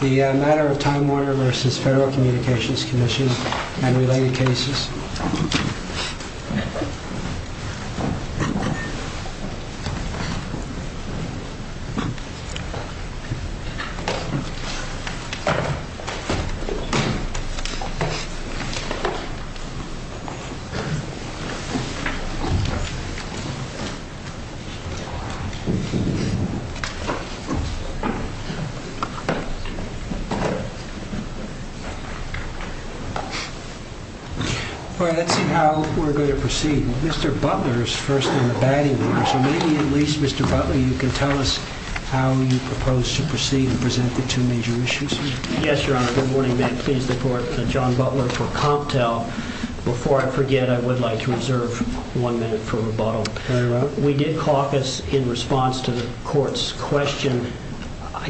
The matter of Time Warner v. Federal Communications Commission and related cases. The matter of Time Warner v. Federal Communications Commission and related cases. I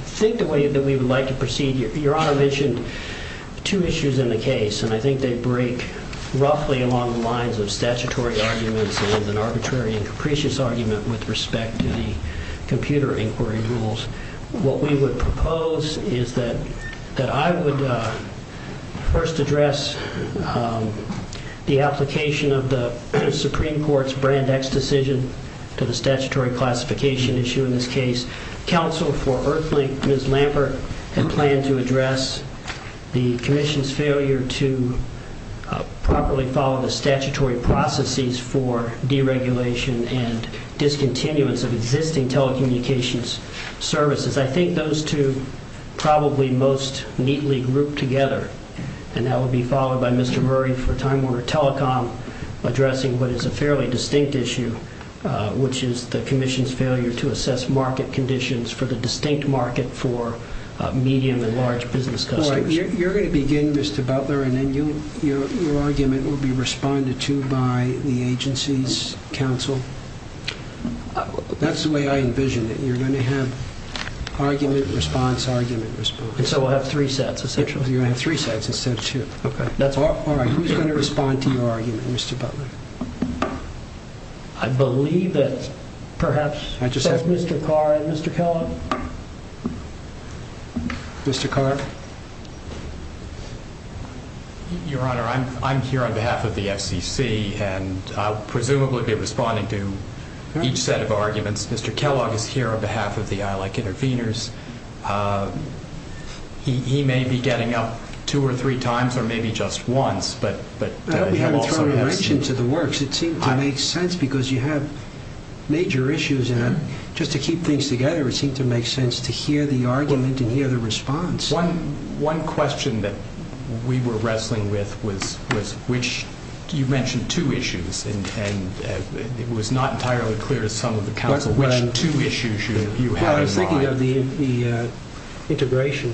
think the way that we would like to proceed, Your Honor mentioned two issues in the case, and I think they break roughly along the lines of statutory arguments and an arbitrary and capricious argument with respect to the computer inquiry rules. What we would propose is that I would first address the application of the Supreme Court's Brand X decision to the statutory classification issue in this case. Counsel for EarthLink, Ms. Lampert, has planned to address the Commission's failure to properly follow the statutory processes for deregulation and discontinuance of existing telecommunications services. I think those two probably most neatly group together, and that would be followed by Mr. Murray for Time Warner Telecom addressing what is a fairly distinct issue, which is the Commission's failure to assess market conditions for the distinct market for medium and large business customers. All right, you're going to begin, Mr. Butler, and then your argument will be responded to by the agency's counsel. That's the way I envision it. You're going to have argument, response, argument, response. And so I'll have three sets of six? You'll have three sets instead of two. Okay, that's all? All right, who's going to respond to your argument, Mr. Butler? I believe that perhaps Mr. Carr and Mr. Kellogg? Mr. Carr? Your Honor, I'm here on behalf of the FCC, and I'll presumably be responding to each set of arguments. Mr. Kellogg is here on behalf of the Allied Interveners. He may be getting up two or three times or maybe just once, but he'll also be asking. It seems to make sense because you have major issues, and just to keep things together, it seems to make sense to hear the argument and hear the response. One question that we were wrestling with was which – you mentioned two issues, and it was not entirely clear to some of the counsel which two issues you had in mind. I was thinking of the integration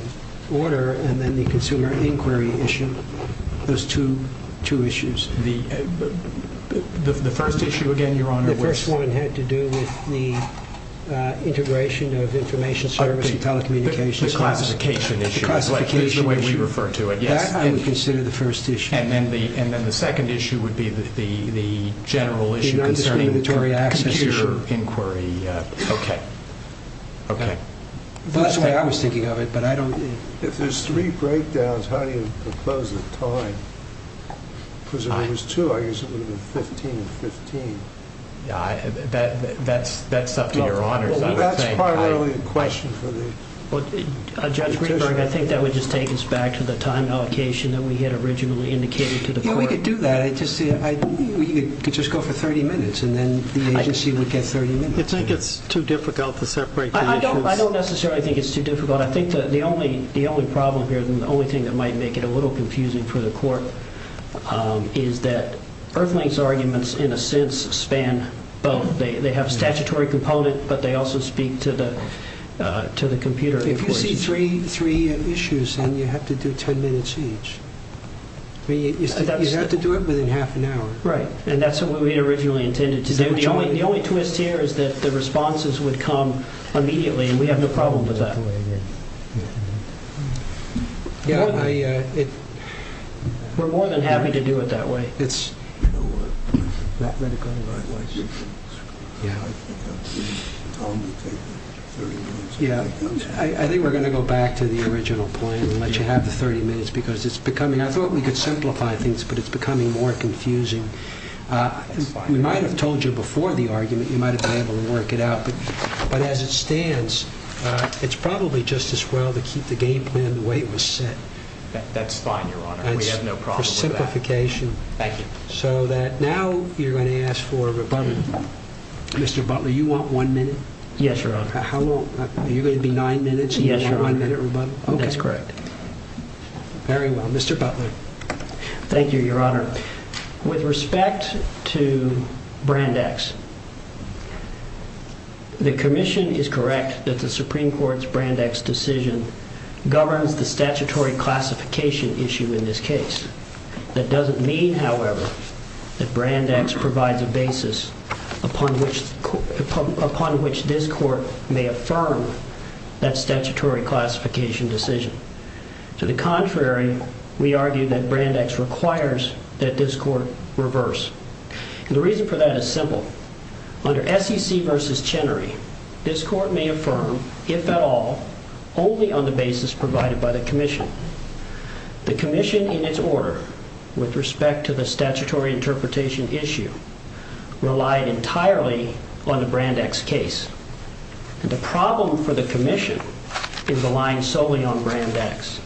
order and then the consumer inquiry issue. Those two issues. The first issue, again, Your Honor? The first one had to do with the integration of information service and telecommunications. The classification issue. The classification issue. The way you refer to it. That I would consider the first issue. And then the second issue would be the general issue concerning the consumer inquiry. Okay. Okay. That's the way I was thinking of it, but I don't – If there's three breakdowns, how do you propose a time? Because if there's two, I guess it would have been 15 and 15. That's up to Your Honor. Well, that's part of the question for me. Judge Greenberg, I think that would just take us back to the time allocation that we had originally indicated to the court. If we could do that, I don't think we could just go for 30 minutes and then the agency would get 30 minutes. It's not just too difficult to separate them. I don't necessarily think it's too difficult. I think the only problem here and the only thing that might make it a little confusing for the court is that Earthling's arguments, in a sense, span both. They have statutory component, but they also speak to the computer information. Because it's three issues and you have to do 10 minutes each. You have to do it within half an hour. Right, and that's what we originally intended. The only twist here is that the responses would come immediately, and we have no problem with that. We're more than happy to do it that way. I think we're going to go back to the original plan and let you have the 30 minutes because it's becoming – I thought we could simplify things, but it's becoming more confusing. We might have told you before the argument. You might have been able to work it out. But as it stands, it's probably just as well to keep the game plan the way it was set. That's fine, Your Honor. We have no problem with that. It's a simplification. Thank you. Now you're going to ask for a rebuttal. Mr. Butler, you want one minute? Yes, Your Honor. Are you going to be nine minutes? Yes, Your Honor. That's correct. Very well. Mr. Butler. Thank you, Your Honor. With respect to Brand X, the commission is correct that the Supreme Court's Brand X decision governs the statutory classification issue in this case. That doesn't mean, however, that Brand X provides a basis upon which this court may affirm that statutory classification decision. To the contrary, we argue that Brand X requires that this court reverse. The reason for that is simple. Under SEC v. Chenery, this court may affirm, if at all, only on the basis provided by the commission. The commission, in its order, with respect to the statutory interpretation issue, relied entirely on the Brand X case. The problem for the commission is aligned solely on Brand X.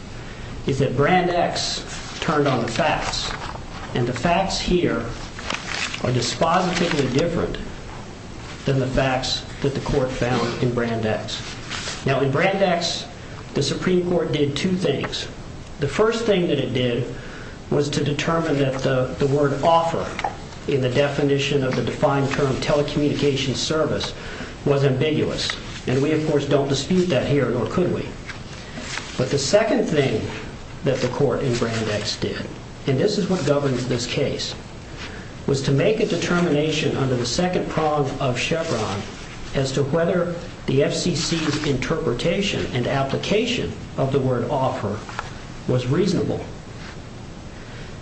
It's that Brand X turned on facts, and the facts here are dispositively different than the facts that the court found in Brand X. Now, in Brand X, the Supreme Court did two things. The first thing that it did was to determine that the word offer in the definition of the defined term telecommunications service was ambiguous. And we, of course, don't dispute that here, nor could we. But the second thing that the court in Brand X did, and this is what governed this case, was to make a determination under the second prong of Chevron as to whether the FCC's interpretation and application of the word offer was reasonable.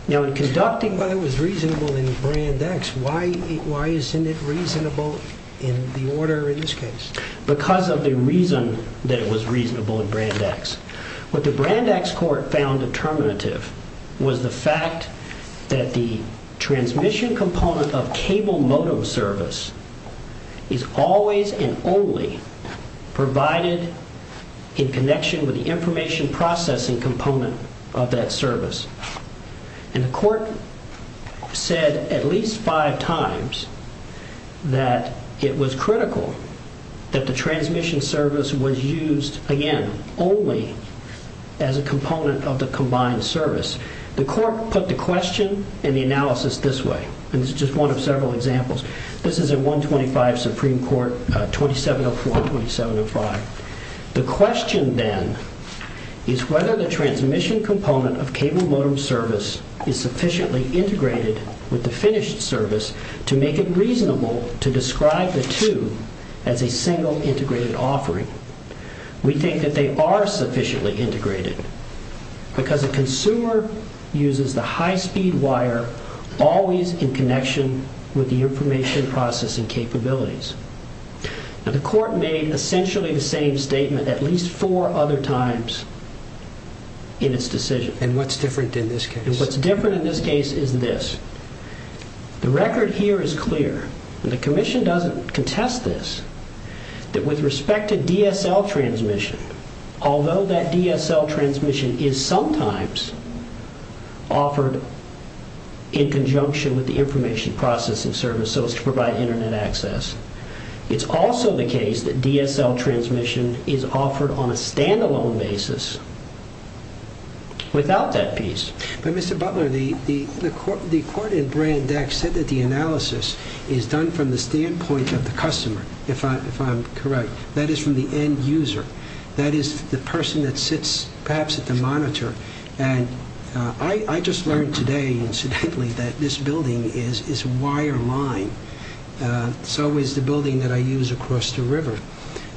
Now, in conducting whether it was reasonable in Brand X, why isn't it reasonable in the order in this case? Because of the reason that it was reasonable in Brand X. What the Brand X court found determinative was the fact that the transmission component of cable modem service is always and only provided in connection with the information processing component of that service. And the court said at least five times that it was critical that the transmission service was used, again, only as a component of the combined service. The court put the question and the analysis this way, and this is just one of several examples. This is in 125 Supreme Court, 2704, 2705. The question then is whether the transmission component of cable modem service is sufficiently integrated with the finished service to make it reasonable to describe the two as a single integrated offering. We think that they are sufficiently integrated because a consumer uses the high-speed wire always in connection with the information processing capabilities. But the court made essentially the same statement at least four other times in its decision. And what's different in this case? What's different in this case is this. The record here is clear, and the commission doesn't contest this, that with respect to DSL transmission, although that DSL transmission is sometimes offered in conjunction with the information processing service so as to provide Internet access, it's also the case that DSL transmission is offered on a stand-alone basis without that piece. But, Mr. Butler, the court in Brandeis said that the analysis is done from the standpoint of the customer, if I'm correct. That is from the end user. That is the person that sits perhaps at the monitor. And I just learned today, incidentally, that this building is wireline. So is the building that I use across the river.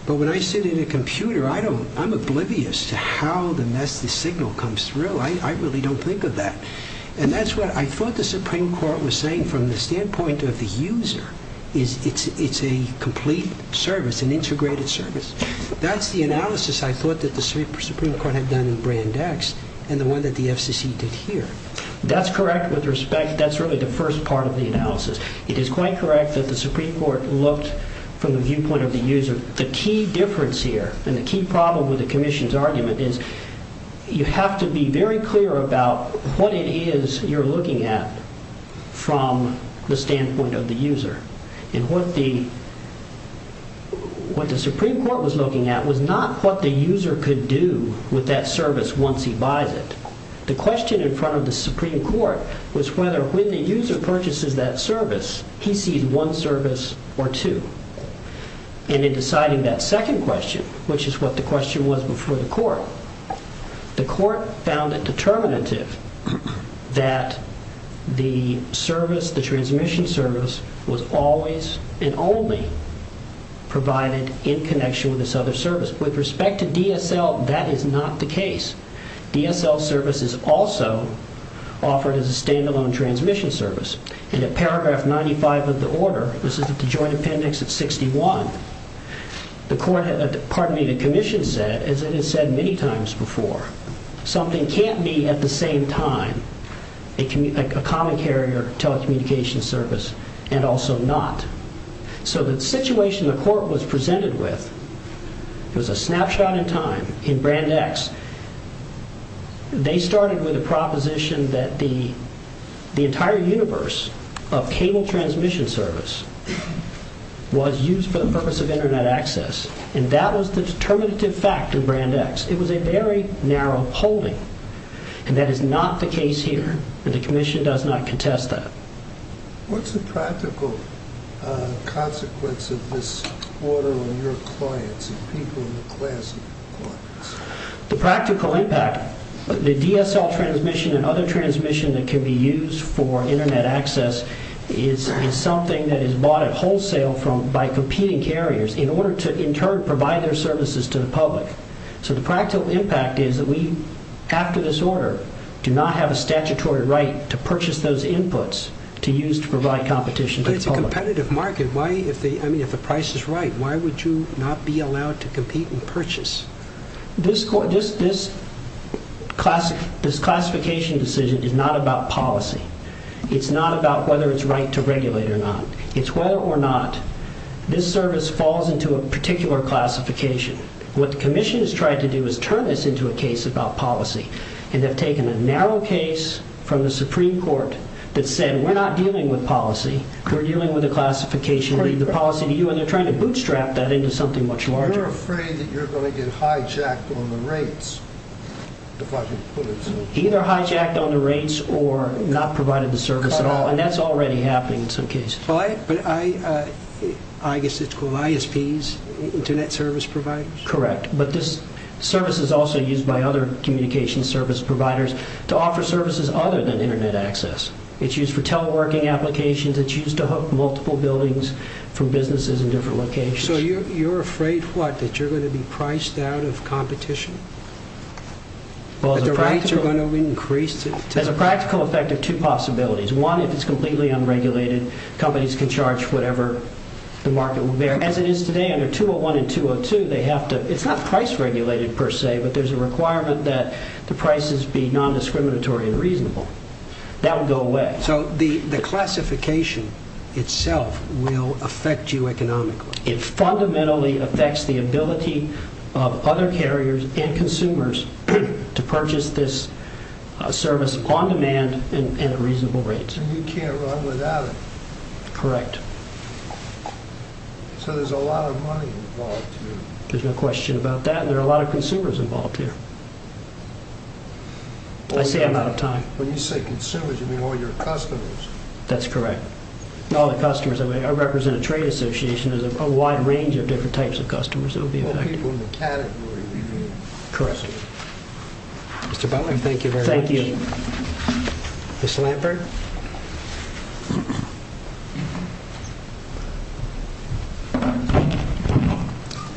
But when I sit in a computer, I'm oblivious to how the message signal comes through. I really don't think of that. And that's what I thought the Supreme Court was saying from the standpoint of the user. It's a complete service, an integrated service. That's the analysis I thought that the Supreme Court had done in Brandeis and the one that the FCC did here. That's correct with respect. That's really the first part of the analysis. It is quite correct that the Supreme Court looked from the viewpoint of the user. The key difference here and the key problem with the commission's argument is you have to be very clear about what it is you're looking at from the standpoint of the user. And what the Supreme Court was looking at was not what the user could do with that service once he buys it. The question in front of the Supreme Court was whether when the user purchases that service, he sees one service or two. And in deciding that second question, which is what the question was before the court, the court found it determinative that the service, the transmission service, was always and only provided in connection with this other service. With respect to DSL, that is not the case. DSL service is also offered as a standalone transmission service. In the paragraph 95 of the order, this is the joint appendix at 61, the commission said, as it had said many times before, something can't be at the same time a common carrier telecommunication service and also not. So the situation the court was presented with was a snapshot in time in Brandeis. They started with a proposition that the entire universe of cable transmission service was used for the purpose of Internet access, and that was the determinative fact in Brandeis. It was a very narrow polling, and that is not the case here, and the commission does not contest that. What's the practical consequence of this order on your clients and people in the class? The practical impact. The DSL transmission and other transmission that can be used for Internet access is something that is bought at wholesale by competing carriers in order to, in turn, provide their services to the public. So the practical impact is that we, after this order, do not have a statutory right to purchase those inputs to use to provide competition to the public. But it's a competitive market. I mean, if the price is right, why would you not be allowed to compete and purchase? This classification decision is not about policy. It's not about whether it's right to regulate or not. It's whether or not this service falls into a particular classification. What the commission has tried to do is turn this into a case about policy, and they've taken a narrow case from the Supreme Court that said, we're not dealing with policy, we're dealing with a classification. Leave the policy to you, and they're trying to bootstrap that into something much larger. Aren't you afraid that you're going to get hijacked on the race? Either hijacked on the race or not provided the service at all, and that's already happening in some cases. I guess it's for ISPs, Internet Service Providers? Correct. But this service is also used by other communication service providers to offer services other than Internet access. It's used for teleworking applications. It's used to hook multiple buildings from businesses in different locations. So you're afraid, what, that you're going to be priced out of competition? Well, as a practical effect, there are two possibilities. One, if it's completely unregulated, companies can charge whatever the market will bear. As it is today under 201 and 202, it's not price regulated per se, but there's a requirement that the prices be non-discriminatory and reasonable. That will go away. So the classification itself will affect you economically? It fundamentally affects the ability of other carriers and consumers to purchase this service on demand and at reasonable rates. And you can't run without it? Correct. So there's a lot of money involved here? There's no question about that, and there are a lot of consumers involved here. I say I'm out of time. When you say consumers, you mean all your customers? That's correct. Not all the customers. I represent a trade association. There's a wide range of different types of customers that will be affected. Mr. Bowman, thank you very much. Thank you. Ms. Lambert?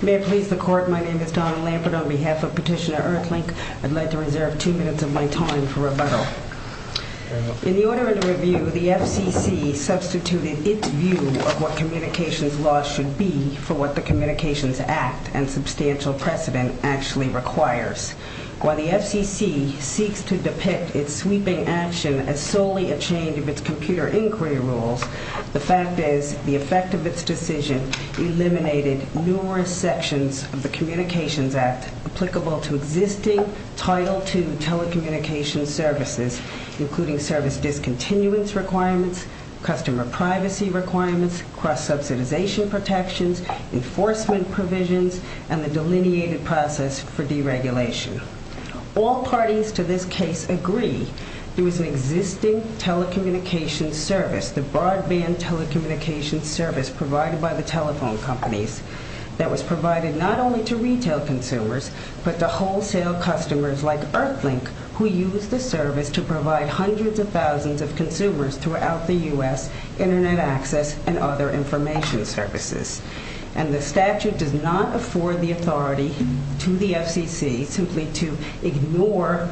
May it please the Court, my name is Donna Lambert on behalf of Petitioner Earthlink. I'd like to reserve two minutes of my time for rebuttal. In the order of the review, the SEC substituted its view of what communications laws should be for what the Communications Act and substantial precedent actually requires. While the SEC seeks to depict its sweeping action as solely a change of its computer inquiry rules, the fact is the effect of this decision eliminated numerous sections of the Communications Act applicable to existing Title II telecommunications services, including service discontinuance requirements, customer privacy requirements, cross-subsidization protections, enforcement provisions, and the delineated process for deregulation. All parties to this case agree there is an existing telecommunications service, the broadband telecommunications service provided by the telephone companies, that was provided not only to retail consumers, but to wholesale customers like Earthlink, who use this service to provide hundreds of thousands of consumers throughout the U.S. Internet access and other information services. And the statute does not afford the authority to the SEC simply to ignore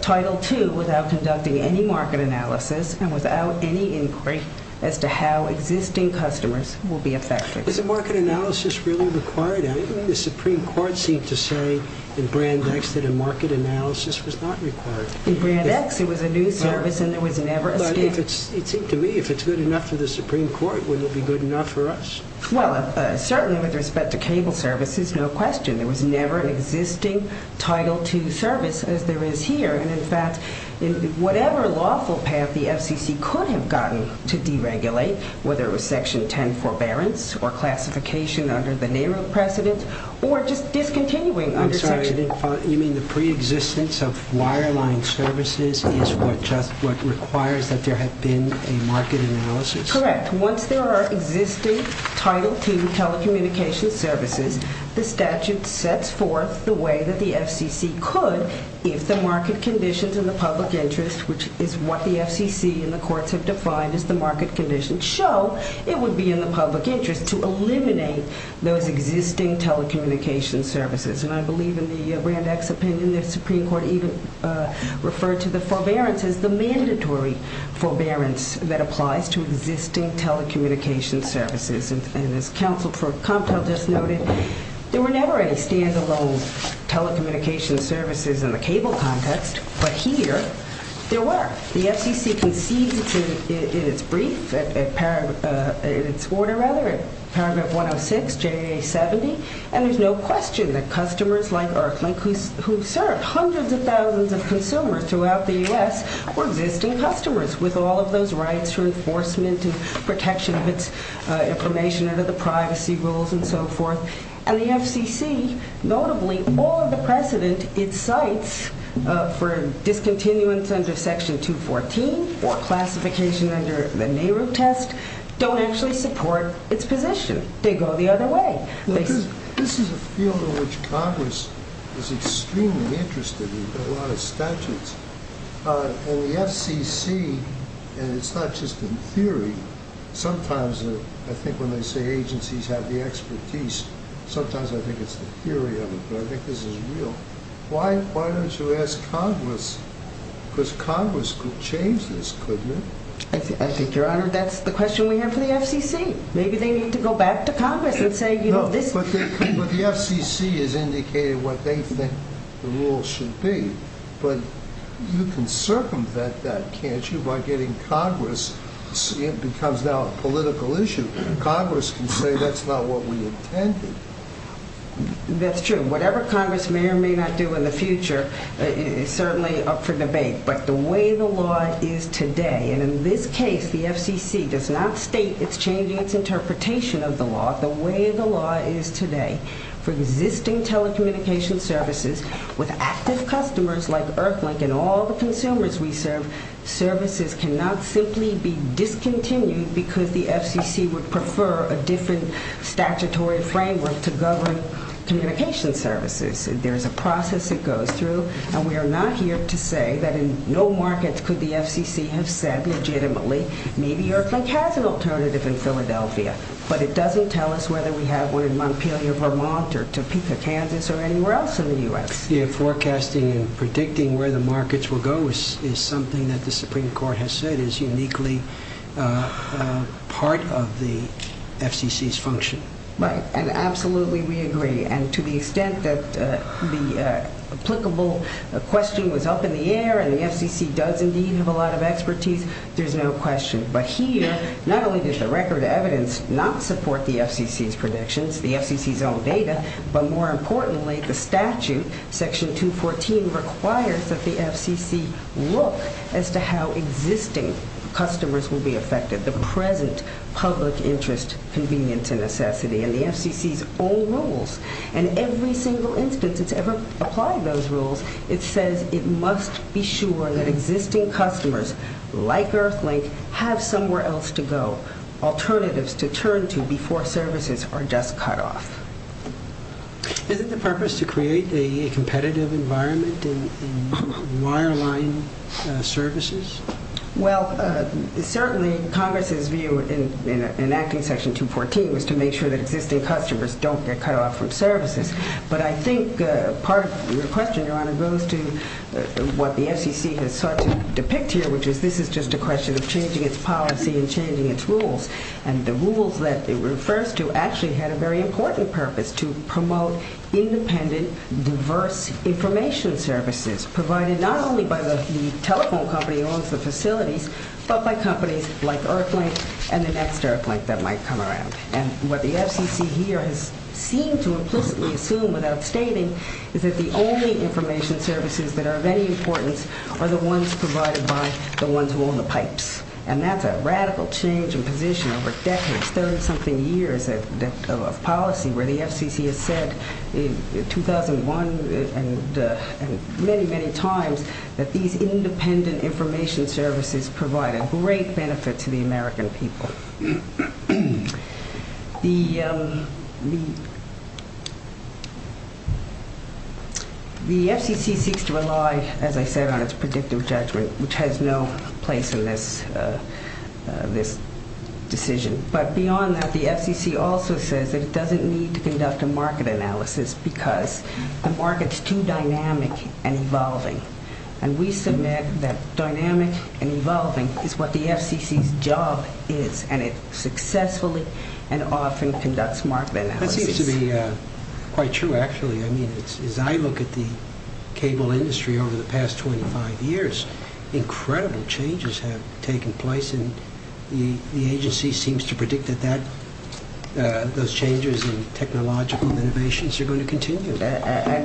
Title II without conducting any market analysis and without any inquiry as to how existing customers will be affected. Is a market analysis really required? The Supreme Court seems to say in Brand X that a market analysis was not required. In Brand X it was a new service and it was never a thing. Well, I think to me if it's good enough for the Supreme Court, would it be good enough for us? Well, certainly with respect to cable services, no question. There was never an existing Title II service as there is here. And, in fact, whatever lawful path the SEC could have gotten to deregulate, whether it was Section 10 forbearance or classification under the name of precedence, or just discontinuing under Section 10. I'm sorry, you mean the preexistence of wireline services is what requires that there has been a market analysis? Correct. Once there are existing Title II telecommunications services, the statute sets forth the way that the SEC could if the market conditions in the public interest, which is what the SEC and the courts have defined as the market conditions, show it would be in the public interest to eliminate those existing telecommunications services. And I believe in the Brand X opinion the Supreme Court even referred to the forbearance as the mandatory forbearance that applies to existing telecommunications services. And as counsel for content just noted, there were never any stand-alone telecommunications services in the cable context. But here there were. The SEC conceded in its brief, in its order rather, in Paragraph 106, JA 70, and there's no question that customers like Erfman, who have served hundreds of thousands of consumers throughout the U.S., were missing customers with all of those rights to enforcement and protection of information under the privacy rules and so forth. And the FCC, notably, all of the precedent it cites for discontinuance under Section 214, for classification under the Nehru test, don't actually support its position. They go the other way. This is a field in which Congress is extremely interested in a lot of statutes. And the FCC, and it's not just in theory, sometimes I think when they say agencies have the expertise, sometimes I think it's the theory of it, but I think this is real. Why don't you ask Congress? Because Congress could change this, couldn't it? I think, Your Honor, that's the question we have for the FCC. Maybe they need to go back to Congress and say, you know, this is the rule. No, but the FCC has indicated what they think the rule should be. But you can circumvent that, can't you, by getting Congress to see it becomes now a political issue. Congress can say that's not what we intended. That's true. Whatever Congress may or may not do in the future is certainly up for debate. But the way the law is today, and in this case, the FCC does not state its changing its interpretation of the law. The way the law is today for existing telecommunications services, with active customers like Earthlink and all the consumers we serve, services cannot simply be discontinued because the FCC would prefer a different statutory framework to govern communications services. There's a process that goes through, and we are not here to say that in no markets could the FCC have said legitimately, maybe you're a fantastic alternative in Philadelphia, but it doesn't tell us whether we're in Montpelier, Vermont, or Topeka, Kansas, or anywhere else in the U.S. Forecasting and predicting where the markets will go is something that the Supreme Court has said is uniquely part of the FCC's function. Right, and absolutely we agree, and to the extent that the applicable question was up in the air and the FCC does indeed have a lot of expertise, there's no question. But here, not only does the record of evidence not support the FCC's predictions, the FCC's own data, but more importantly, the statute, Section 214, requires that the FCC look as to how existing customers will be affected, the present public interest convenience and necessity, and the FCC's own rules. And every single instance it's ever applied those rules, it says it must be sure that existing customers, like Earthling, have somewhere else to go, alternatives to turn to before services are just cut off. Is it the purpose to create a competitive environment in wireline services? Well, certainly Congress's view in enacting Section 214 was to make sure that existing customers don't get cut off from services. But I think part of the question, Your Honor, goes to what the FCC has depicted, which is this is just a question of changing its policy and changing its rules. And the rules that it refers to actually had a very important purpose, to promote independent, diverse information services provided not only by the telephone company and also facilities, but by companies like Earthling and the next Earthling that might come around. And what the FCC here has seemed to implicitly assume without stating is that the only information services that are of any importance are the ones provided by the ones who own the pipe. And that's a radical change in position over decades, 30-something years, of a policy where the FCC has said in 2001 and many, many times that these independent information services provide a great benefit to the American people. The FCC seeks to rely, as I said, on its predictive judgment, which has no place in this decision. But beyond that, the FCC also says it doesn't need to conduct a market analysis because a market is too dynamic and evolving. And we submit that dynamic and evolving is what the FCC's job is, and it successfully and often conducts market analysis. That seems to be quite true, actually. I mean, as I look at the cable industry over the past 25 years, incredible changes have taken place, and the agency seems to predict that those changes in technological innovations are going to continue.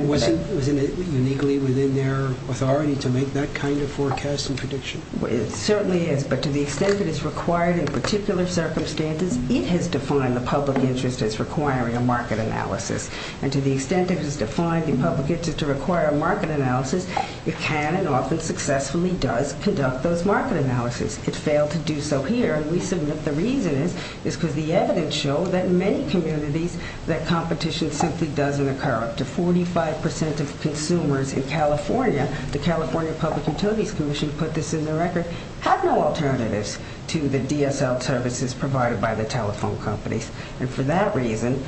Wasn't it uniquely within their authority to make that kind of forecast and prediction? It certainly is, but to the extent that it's required in particular circumstances, it has defined the public interest as requiring a market analysis. And to the extent it has defined the public interest to require a market analysis, it can and often successfully does conduct those market analyses. It failed to do so here, and we submit the reason is because the evidence shows that in many communities that competition simply doesn't occur. Up to 45 percent of consumers in California, the California Public Utilities Commission put this in the record, have no alternatives to the DSL services provided by the telephone companies. And for that reason,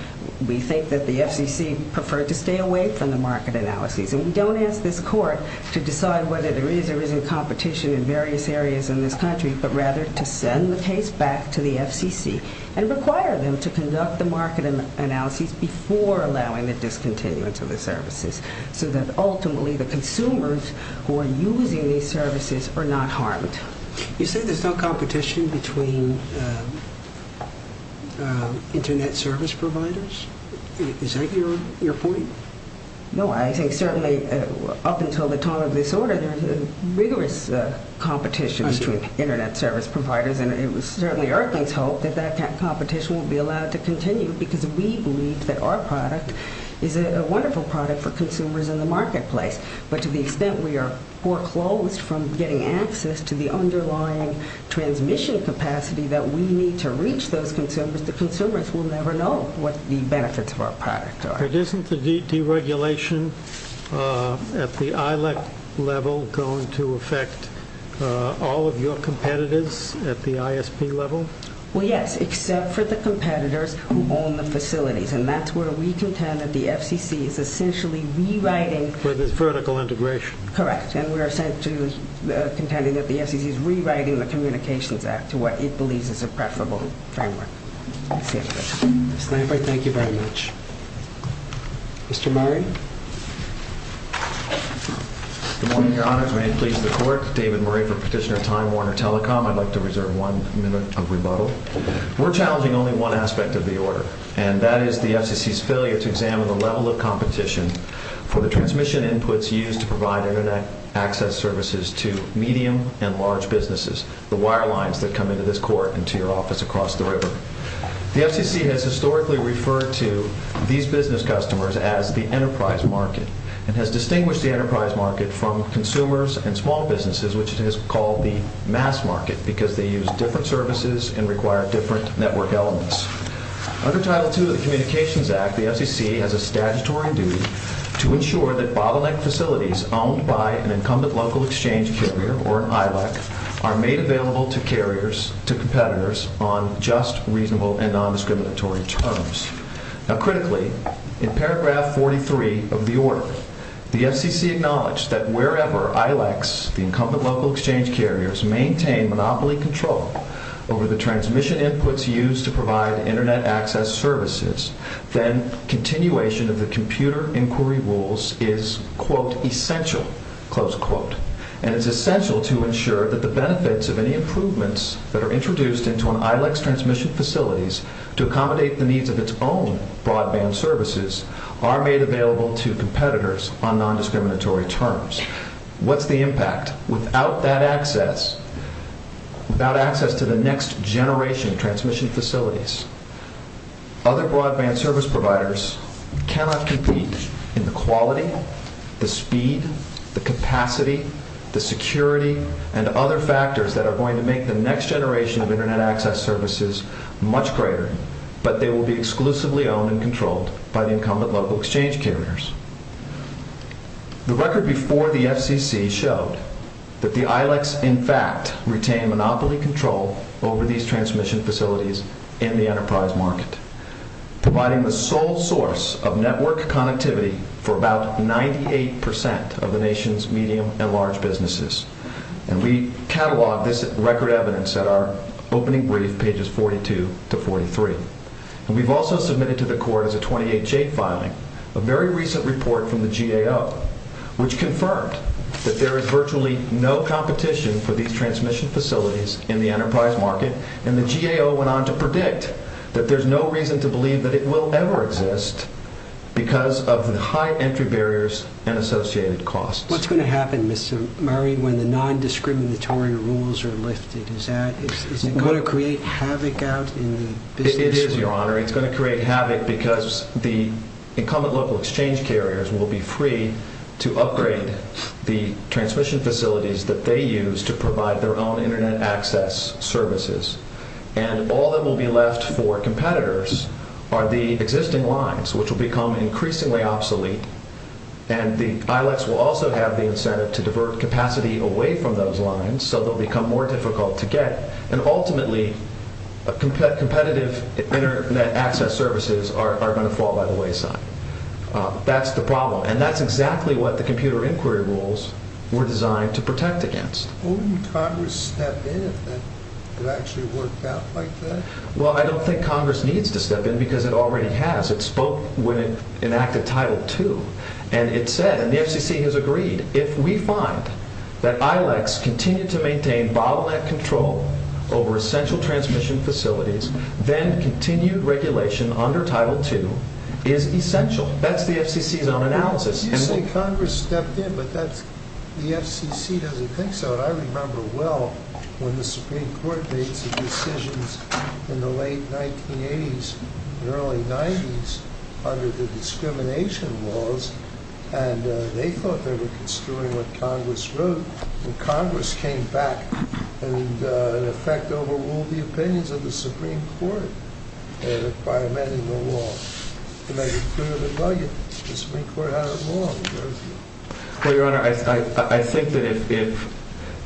we think that the FCC preferred to stay away from the market analyses. And we don't ask the court to decide whether there is or isn't competition in various areas in this country, but rather to send the case back to the FCC and require them to conduct the market analyses before allowing the discontinuance of the services so that ultimately the consumers who are using these services are not harmed. You said there's some competition between Internet service providers? Is that your point? No, I think certainly up until the time of disorder, there's a rigorous competition between Internet service providers, and it was certainly Erkin's hope that that competition would be allowed to continue because we believe that our product is a wonderful product for consumers in the marketplace. But to the extent we are foreclosed from getting access to the underlying transmission capacity that we need to reach those consumers, the consumers will never know what the benefits for our product are. Isn't the deregulation at the ILEC level going to affect all of your competitors at the ISP level? Well, yes, except for the competitors who own the facilities, and that's where we contend that the FCC is essentially rewriting. So there's vertical integration. Correct, and we are contending that the FCC is rewriting the Communications Act to what it believes is a preferable framework. Okay. Mr. Cranford, thank you very much. Mr. Murray? Good morning, Your Honors. May I please report? David Murray for Petitioner Time Warner Telecom. I'd like to reserve one minute of rebuttal. We're challenging only one aspect of the order, and that is the FCC's failure to examine the level of competition for the transmission inputs used to provide Internet access services to medium and large businesses, the wire lines that come into this court and to your office across the river. The FCC has historically referred to these business customers as the enterprise market and has distinguished the enterprise market from consumers and small businesses, which it has called the mass market because they use different services and require different network elements. Under Title II of the Communications Act, the FCC has a statutory duty to ensure that bottleneck facilities owned by an incumbent local exchange carrier or an ILEC are made available to carriers, to competitors, on just, reasonable, and non-discriminatory terms. Now, critically, in paragraph 43 of the order, the FCC acknowledged that wherever ILECs, the incumbent local exchange carriers, maintain monopoly control over the transmission inputs used to provide Internet access services, then continuation of the computer inquiry rules is, quote, essential, close quote, and it's essential to ensure that the benefits of any improvements that are introduced into an ILEC's transmission facilities to accommodate the needs of its own broadband services are made available to competitors on non-discriminatory terms. What's the impact? Without that access, without access to the next generation of transmission facilities, other broadband service providers cannot compete in the quality, the speed, the capacity, the security, and other factors that are going to make the next generation of Internet access services much greater, but they will be exclusively owned and controlled by the incumbent local exchange carriers. The record before the FCC showed that the ILECs, in fact, retain monopoly control over these transmission facilities in the enterprise market, providing the sole source of network connectivity for about 98% of the nation's medium and large businesses, and we catalog this record evidence at our opening brief, pages 42 to 43. We've also submitted to the court as a 28-J filing a very recent report from the GAO, which confirmed that there is virtually no competition for these transmission facilities in the enterprise market, and the GAO went on to predict that there's no reason to believe that it will ever exist because of the high entry barriers and associated costs. What's going to happen, Mr. Murray, when the non-discriminatory rules are lifted? Is it going to create havoc out in the business community? It is, Your Honor. It's going to create havoc because the incumbent local exchange carriers will be free to upgrade the transmission facilities that they use to provide their own Internet access services, and all that will be left for competitors are the existing lines, which will become increasingly obsolete, and the ILECs will also have the incentive to divert capacity away from those lines so they'll become more difficult to get, and ultimately competitive Internet access services are going to fall by the wayside. That's the problem, and that's exactly what the computer inquiry rules were designed to protect against. Wouldn't Congress step in if it actually worked out like that? Well, I don't think Congress needs to step in because it already has. It spoke when it enacted Title II, and it said, and the FCC has agreed, if we find that ILECs continue to maintain bottleneck control over essential transmission facilities, then continued regulation under Title II is essential. That's the FCC's own analysis. You say Congress stepped in, but the FCC doesn't think so. I remember well when the Supreme Court made some decisions in the late 1980s and early 90s under the discrimination laws, and they thought they were doing what Congress wrote, and Congress came back and, in effect, overruled the opinions of the Supreme Court by amending the law to make it clear to the public that the Supreme Court had a law. Well, Your Honor, I think that if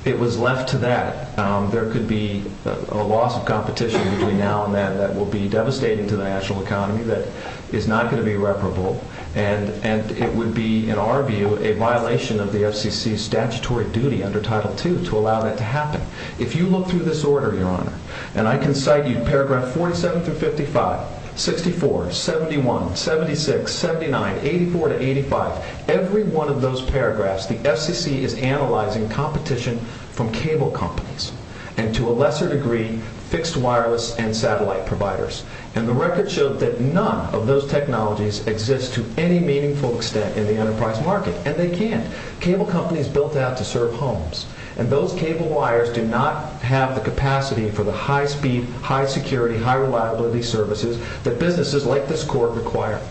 it was left to that, there could be a loss of competition between now and then that will be devastating to the national economy that is not going to be reparable, and it would be, in our view, a violation of the FCC's statutory duty under Title II to allow that to happen. If you look through this order, Your Honor, and I can cite you paragraph 47 through 55, 64, 71, 76, 79, 84 to 85, every one of those paragraphs the FCC is analyzing competition from cable companies and, to a lesser degree, fixed wireless and satellite providers, and the record shows that none of those technologies exist to any meaningful extent in the enterprise market, and they can't. Cable companies built that to serve homes, and those cable wires do not have the capacity for the high-speed, high-security, high-reliability services that businesses like this court require.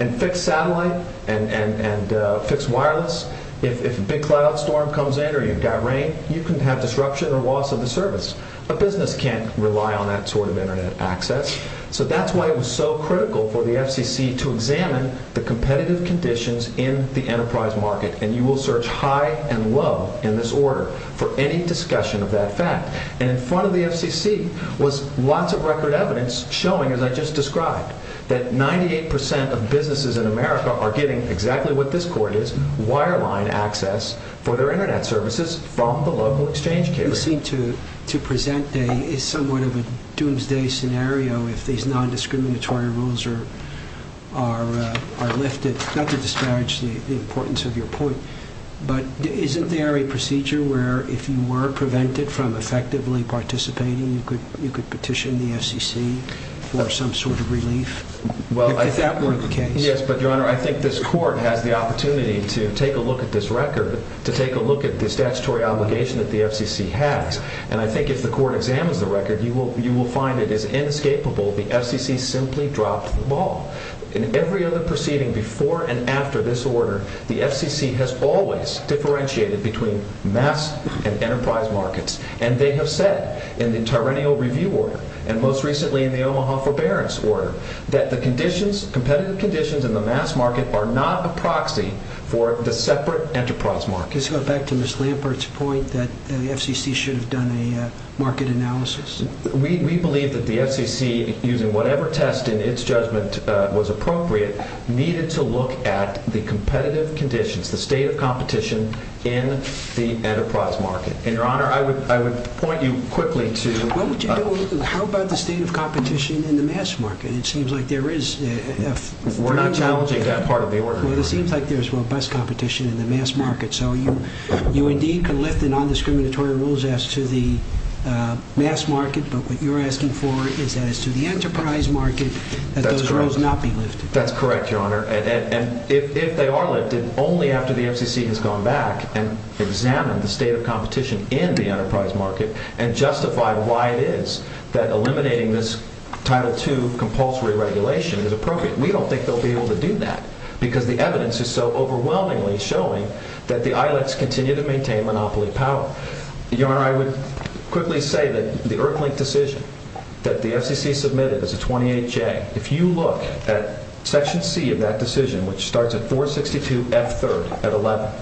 And fixed satellite and fixed wireless, if a big cloud storm comes in or you've got rain, you can have disruption and loss of the service. A business can't rely on that sort of Internet access, so that's why it was so critical for the FCC to examine the competitive conditions in the enterprise market, and you will search high and low in this order for any discussion of that fact. And in front of the FCC was lots of record evidence showing, as I just described, that 98 percent of businesses in America are getting exactly what this court is, wireline access for their Internet services from the local exchange cable. You seem to present a somewhat of a doomsday scenario if these nondiscriminatory rules are lifted. Not to disparage the importance of your point, but isn't there a procedure where if you were prevented from effectively participating, you could petition the FCC for some sort of relief? Yes, but, Your Honor, I think this court had the opportunity to take a look at this record, to take a look at the statutory obligation that the FCC has, and I think if the court examines the record, you will find it is inescapable. The FCC simply dropped the ball. In every other proceeding before and after this order, the FCC has always differentiated between mass and enterprise markets, and they have said in the tyrannical review order, and most recently in the Omaha forbearance order, that the competitive conditions in the mass market are not the proxy for the separate enterprise markets. Let's go back to Ms. Leopold's point that the FCC should have done a market analysis. We believe that the FCC, using whatever test in its judgment was appropriate, needed to look at the competitive conditions, the state of competition in the enterprise market. And, Your Honor, I would point you quickly to... How about the state of competition in the mass market? It seems like there is... We're not challenging that part of the order. Well, it seems like there's robust competition in the mass market, so you indeed can lift the non-discriminatory rules as to the mass market, but what you're asking for is that as to the enterprise market, that those rules not be lifted. That's correct, Your Honor, and if they are lifted, only after the FCC has gone back and examined the state of competition in the enterprise market and justified why it is that eliminating this Title II compulsory regulation is appropriate. We don't think they'll be able to do that, because the evidence is so overwhelmingly showing that the ILFs continue to maintain monopoly power. Your Honor, I would quickly say that the Irkland decision that the FCC submitted as a 28-J, if you look at Section C of that decision, which starts at 462 F-3rd at 11,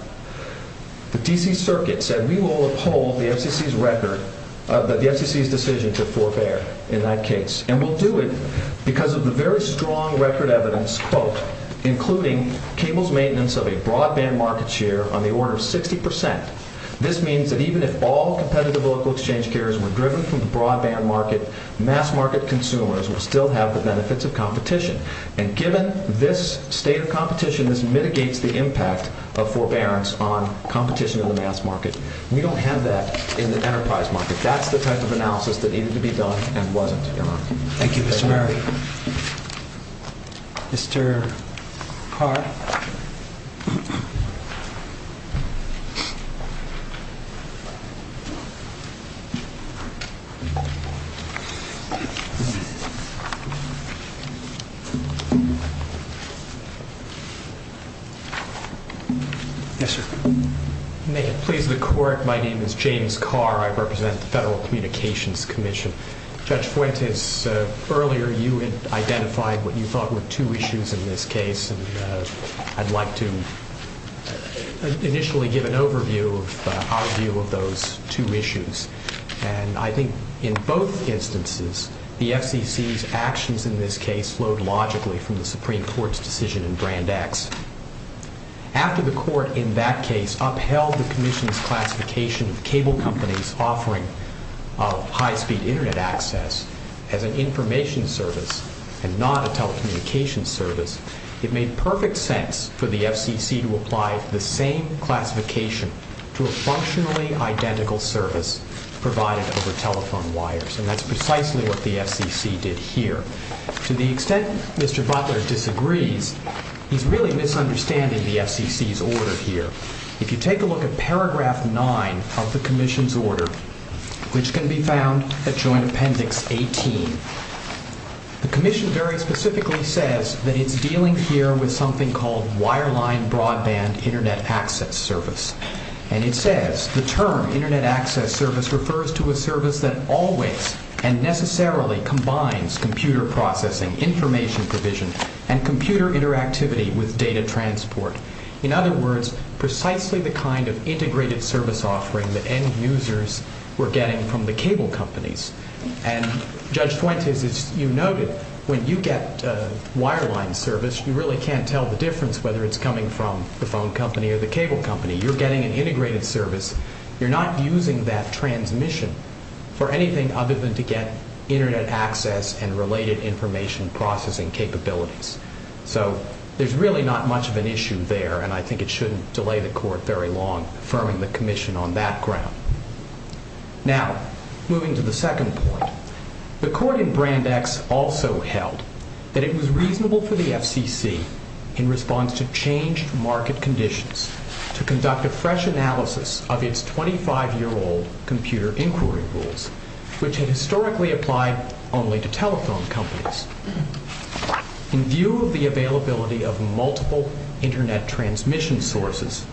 the D.C. Circuit said we will uphold the FCC's decision to forbear in that case, and we'll do it because of the very strong record evidence, quote, including cable's maintenance of a broadband market share on the order of 60%. This means that even if all competitive local exchange carriers were driven from the broadband market, mass market consumers would still have the benefits of competition, and given this state of competition, this mitigates the impact of forbearance on competition in the mass market, and you don't have that in the enterprise market. That's the type of analysis that needed to be done and wasn't, Your Honor. Thank you. Mr. Mary. Mr. Carr. Yes, sir. May it please the Court, my name is James Carr. I represent the Federal Communications Commission. Judge Fuentes, earlier you identified what you thought were two issues in this case, and I'd like to initially give an overview, an outview of those two issues, and I think in both instances, the FCC's actions in this case flowed logically from the Supreme Court's decision in Grand X. After the Court in that case upheld the Commission's classification of cable companies offering high-speed Internet access as an information service and not a telecommunications service, it made perfect sense for the FCC to apply the same classification to a functionally identical service provided over telephone wires, and that's precisely what the FCC did here. To the extent Mr. Butler disagrees, he's really misunderstanding the FCC's order here. If you take a look at paragraph 9 of the Commission's order, which can be found at Joint Appendix 18, the Commission very specifically says that it's dealing here with something called wireline broadband Internet access service, and it says the term Internet access service refers to a service that always and necessarily combines computer processing, information provision, and computer interactivity with data transport. In other words, precisely the kind of integrated service offering that end users were getting from the cable companies, and Judge Pointes, as you noted, when you get a wireline service, you really can't tell the difference whether it's coming from the phone company or the cable company. You're getting an integrated service. You're not using that transmission for anything other than to get Internet access and related information processing capabilities. So there's really not much of an issue there, and I think it shouldn't delay the Court very long affirming the Commission on that ground. Now, moving to the second point, the Court in Brand X also held that it was reasonable for the FCC, in response to changed market conditions, to conduct a fresh analysis of its 25-year-old computer inquiry rules, which had historically applied only to telephone companies. In view of the availability of multiple Internet transmission sources,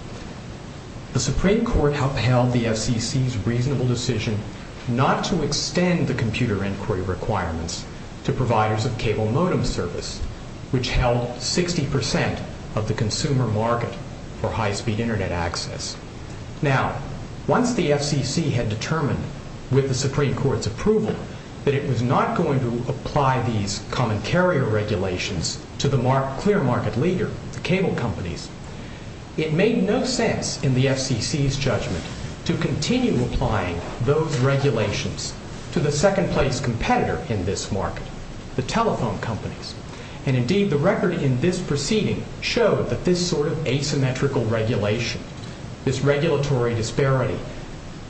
the Supreme Court upheld the FCC's reasonable decision not to extend the computer inquiry requirements to providers of cable modem service, which held 60% of the consumer market for high-speed Internet access. Now, once the FCC had determined, with the Supreme Court's approval, that it was not going to apply these common carrier regulations to the clear market leader, the cable companies, it made no sense, in the FCC's judgment, to continue applying those regulations to the second-place competitor in this market, the telephone companies. And indeed, the records in this proceeding show that this sort of asymmetrical regulation, this regulatory disparity,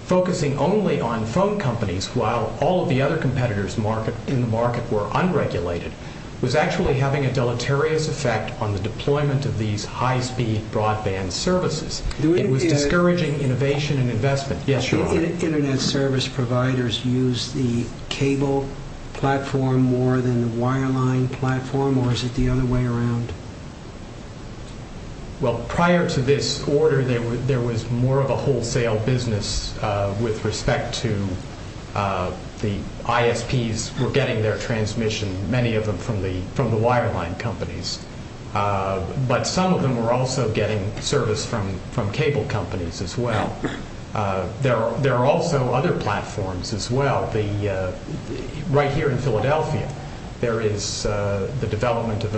focusing only on phone companies while all the other competitors in the market were unregulated, was actually having a deleterious effect on the deployment of these high-speed broadband services. It was discouraging innovation and investment. Do Internet service providers use the cable platform more than the wireline platform, or is it the other way around? Well, prior to this order, there was more of a wholesale business with respect to the ISPs who were getting their transmission, many of them from the wireline companies. But some of them were also getting service from cable companies as well. There are also other platforms as well. Right here in Philadelphia, there is the development of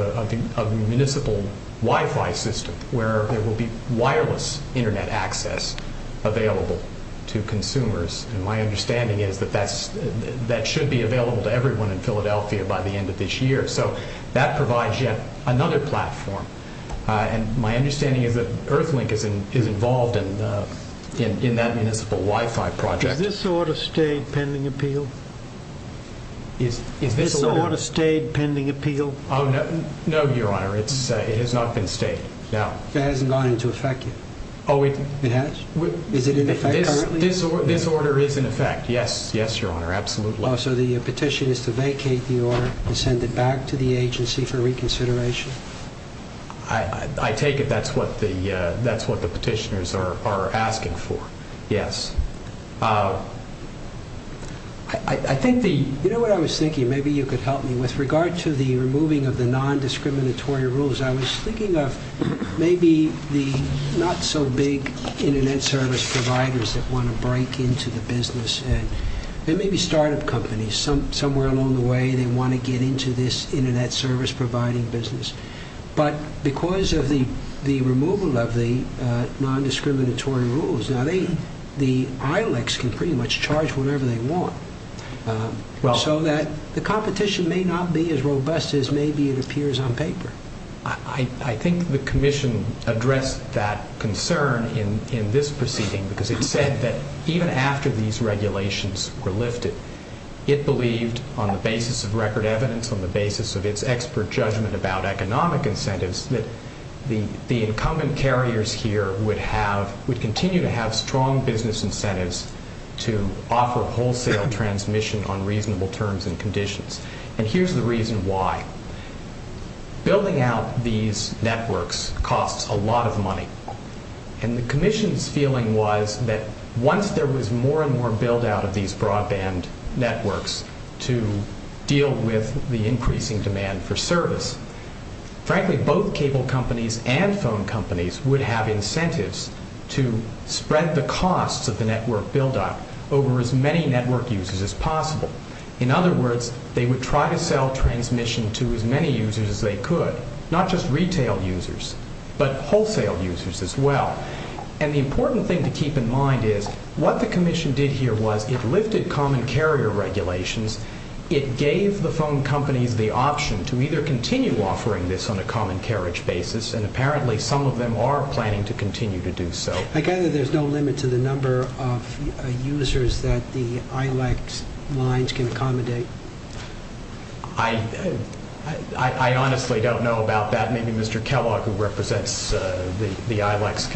a municipal Wi-Fi system where there will be wireless Internet access available to consumers. And my understanding is that that should be available to everyone in Philadelphia by the end of this year. So that provides yet another platform. And my understanding is that Earthlink is involved in that municipal Wi-Fi project. Is this order stayed pending appeal? Is this order stayed pending appeal? No, Your Honor, it has not been stayed. It hasn't gone into effect yet? It has. Is it in effect? This order is in effect, yes. Yes, Your Honor, absolutely. So the petition is to vacate the order and send it back to the agency for reconsideration? I take it that's what the petitioners are asking for, yes. You know what I was thinking? Maybe you could help me. With regard to the removing of the non-discriminatory rules, I was thinking of maybe the not-so-big Internet service providers that want to break into the business. There may be startup companies somewhere along the way that want to get into this Internet service providing business. But because of the removal of the non-discriminatory rules, the ILICs can pretty much charge whatever they want, so that the competition may not be as robust as maybe it appears on paper. I think the Commission addressed that concern in this proceeding because it said that even after these regulations were lifted, it believed on the basis of record evidence, on the basis of its expert judgment about economic incentives, that the incumbent carriers here would continue to have strong business incentives to offer wholesale transmission on reasonable terms and conditions. And here's the reason why. Building out these networks costs a lot of money. And the Commission's feeling was that once there was more and more build-out of these broadband networks to deal with the increasing demand for service, frankly, both cable companies and phone companies would have incentives to spread the costs of the network build-out over as many network users as possible. In other words, they would try to sell transmission to as many users as they could, not just retail users, but wholesale users as well. And the important thing to keep in mind is, what the Commission did here was, it lifted common carrier regulations, it gave the phone companies the option to either continue offering this on a common carriage basis, and apparently some of them are planning to continue to do so. I gather there's no limit to the number of users that the ILEX lines can accommodate. I honestly don't know about that. Maybe Mr. Kellogg, who represents the ILEX,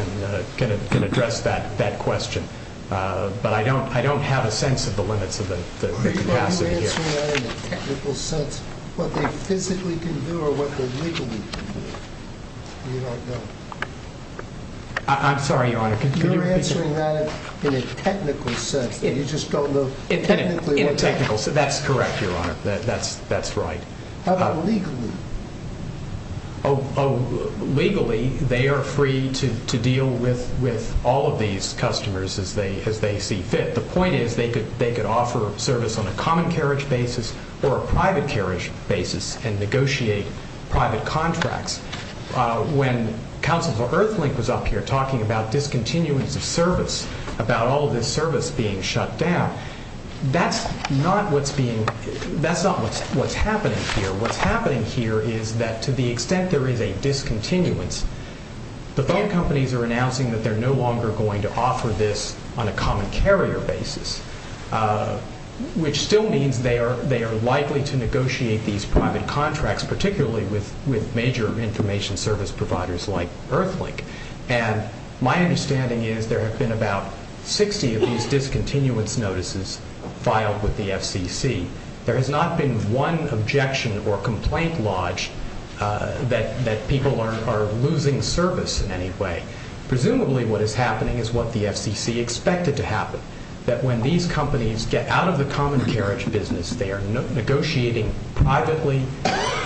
can address that question. But I don't have a sense of the limit to the capacity. Are you answering that in a technical sense, what they physically can do or what they legally can do? I'm sorry, Your Honor. You're answering that in a technical sense. You just don't know technically. In a technical sense. That's correct, Your Honor. That's right. How about legally? Legally, they are free to deal with all of these customers as they see fit. The point is, they could offer service on a common carriage basis or a private carriage basis and negotiate private contracts. When Counsel for Earthlink was up here talking about discontinuance of service, about all of their service being shut down, that's not what's happening here. What's happening here is that to the extent there is a discontinuance, the companies are announcing that they're no longer going to offer this on a common carrier basis, which still means they are likely to negotiate these private contracts, particularly with major information service providers like Earthlink. My understanding is there have been about 60 of these discontinuance notices filed with the FCC. There has not been one objection or complaint lodged that people are losing service in any way. Presumably what is happening is what the FCC expected to happen, that when these companies get out of the common carriage business, they are negotiating privately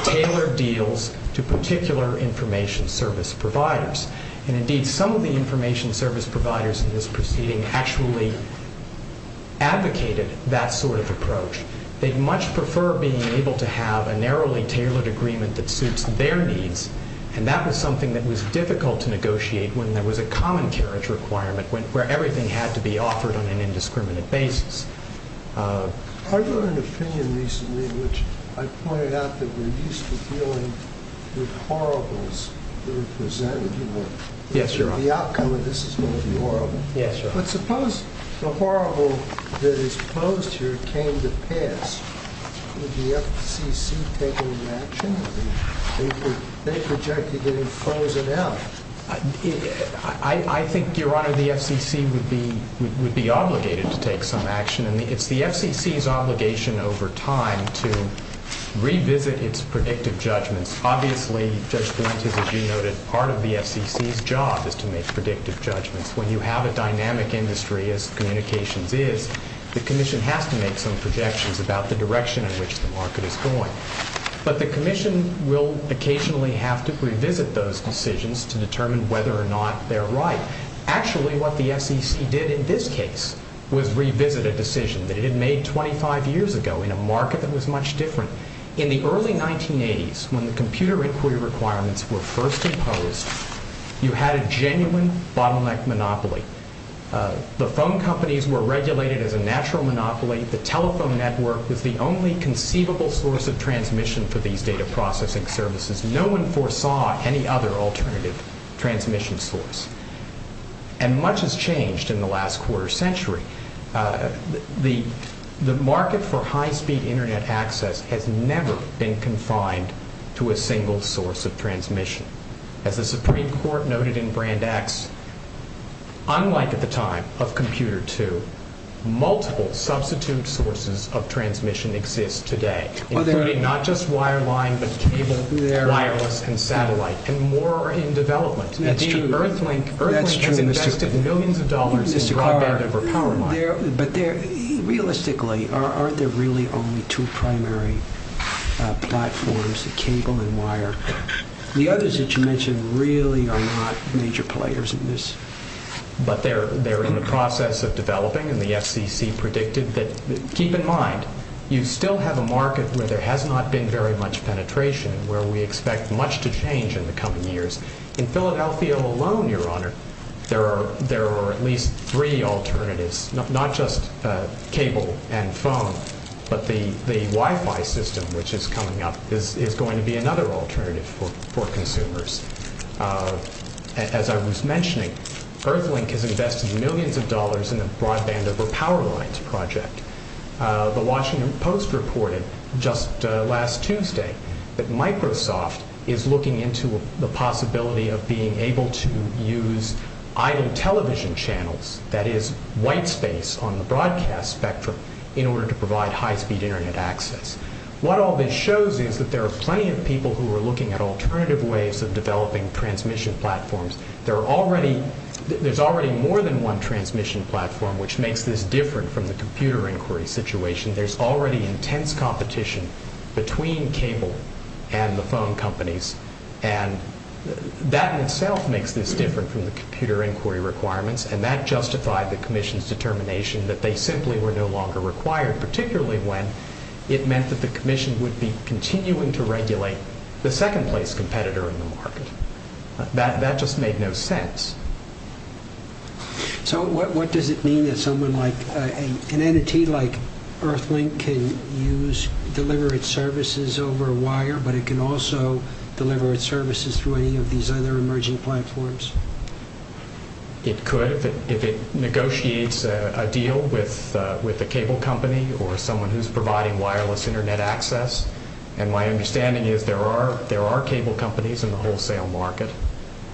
tailored deals to particular information service providers. Indeed, some of the information service providers in this proceeding actually advocated that sort of approach. They'd much prefer being able to have a narrowly tailored agreement that suits their needs, and that was something that was difficult to negotiate when there was a common carriage requirement where everything had to be offered on an indiscriminate basis. I wrote an opinion recently which I pointed out that we're used to dealing with horribles. Is that what you wrote? Yes, Your Honor. The outcome of this is going to be horrible. Yes, Your Honor. But suppose the horrible that is posed here came to pass. Would the FCC take any action? They projected that it was closing out. I think, Your Honor, the FCC would be obligated to take some action, and it's the FCC's obligation over time to revisit its predictive judgments. Obviously, Judge Blankens, as you noted, part of the FCC's job is to make predictive judgments. When you have a dynamic industry, as communications is, the Commission has to make some projections about the direction in which the market is going. But the Commission will occasionally have to revisit those decisions to determine whether or not they're right. Actually, what the FCC did in this case was revisit a decision that it had made 25 years ago in a market that was much different. In the early 1980s, when the computer inquiry requirements were first imposed, you had a genuine bottleneck monopoly. The phone companies were regulated as a natural monopoly. The telephone network was the only conceivable source of transmission for these data processing services. No one foresaw any other alternative transmission source. And much has changed in the last quarter century. The market for high-speed Internet access has never been confined to a single source of transmission. As the Supreme Court noted in Brand X, unlike at the time of Computer II, multiple substitute sources of transmission exist today. Not just wireline, but cable, wireless, and satellite. And more are in development. That's true. That's true. We've invested millions of dollars in broadband and for power lines. But realistically, aren't there really only two primary platforms, cable and wire? The others that you mentioned really are not major players in this. But they're in the process of developing, and the SEC predicted that. Keep in mind, you still have a market where there has not been very much penetration, where we expect much to change in the coming years. In Philadelphia alone, Your Honor, there are at least three alternatives. Not just cable and phone, but the Wi-Fi system which is coming up is going to be another alternative for consumers. As I was mentioning, Earthlink has invested millions of dollars in a broadband over power lines project. The Washington Post reported just last Tuesday that Microsoft is looking into the possibility of being able to use island television channels, that is, white space on the broadcast spectrum, in order to provide high-speed internet access. What all this shows is that there are plenty of people who are looking at alternative ways of developing transmission platforms. There's already more than one transmission platform which makes this different from the computer inquiry situation. There's already intense competition between cable and the phone companies, and that in itself makes this different from the computer inquiry requirements, and that justified the commission's determination that they simply were no longer required, particularly when it meant that the commission would be continuing to regulate the second-place competitor in the market. That just made no sense. So what does it mean that someone like, an entity like Earthlink can use, deliver its services over a wire, but it can also deliver its services through any of these other emerging platforms? It could, if it negotiates a deal with a cable company or someone who's providing wireless internet access. And my understanding is there are cable companies in the wholesale market.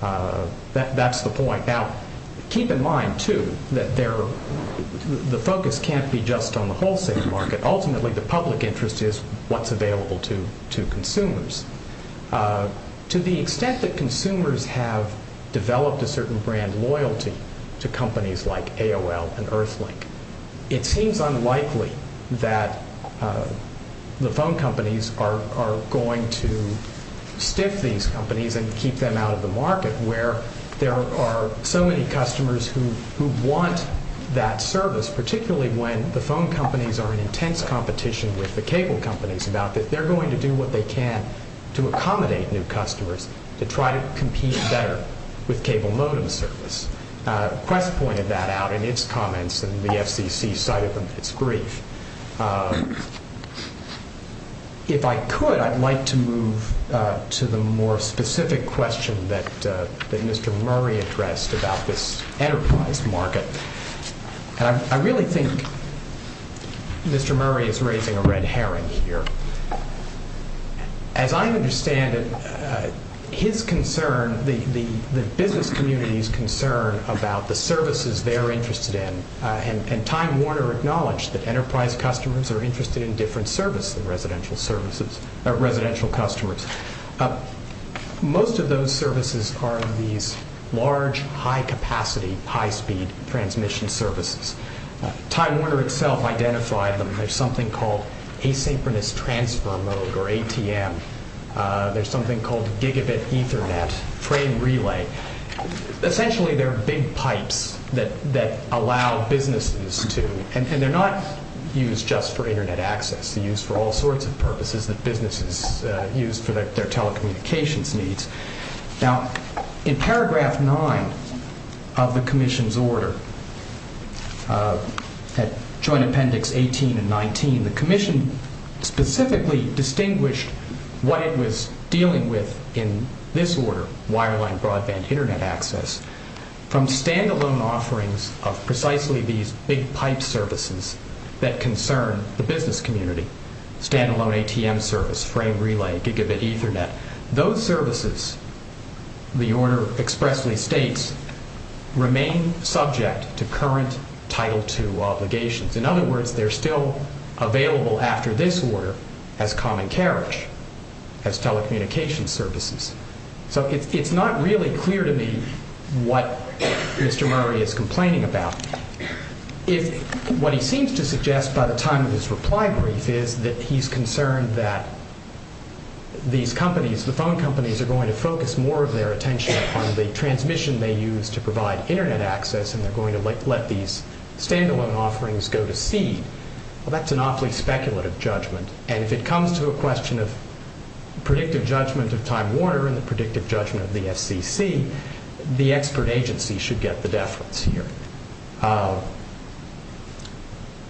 That's the point. Now, keep in mind, too, that the focus can't be just on the wholesale market. Ultimately, the public interest is what's available to consumers. To the extent that consumers have developed a certain brand loyalty to companies like AOL and Earthlink, it seems unlikely that the phone companies are going to stick these companies and keep them out of the market where there are so many customers who want that service, particularly when the phone companies are in intense competition with the cable companies about that they're going to do what they can to accommodate new customers to try to compete better with cable modem service. Quest pointed that out in its comments, and the SBC cited them in its brief. If I could, I'd like to move to the more specific question that Mr. Murray addressed about this enterprise market. I really think Mr. Murray is raising a red herring here. As I understand it, his concern, the business community's concern about the services they're interested in, and Time Warner acknowledged that enterprise customers are interested in different services, residential services, residential customers. Most of those services are these large, high-capacity, high-speed transmission services. Time Warner itself identified them. There's something called asynchronous transfer mode, or ATM. There's something called gigabit Ethernet, trade relay. Essentially, they're big pipes that allow businesses to, and they're not used just for Internet access. They're used for all sorts of purposes that businesses use for their telecommunications needs. Now, in paragraph 9 of the commission's order, Joint Appendix 18 and 19, the commission specifically distinguished what it was dealing with in this order, wireline broadband Internet access, from standalone offerings of precisely these big pipe services that concern the business community, standalone ATM service, frame relay, gigabit Ethernet. Those services, the order expressly states, remain subject to current Title II obligations. In other words, they're still available after this order as common carriage, as telecommunications services. So it's not really clear to me what Mr. Murray is complaining about. What he seems to suggest by the time of this reply brief is that he's concerned that these companies, the phone companies are going to focus more of their attention on the transmission they use to provide Internet access, and they're going to let these standalone offerings go to seed. Well, that's an awfully speculative judgment, and if it comes to a question of predictive judgment of Time Warner and the predictive judgment of the SDC, the expert agency should get the deference here.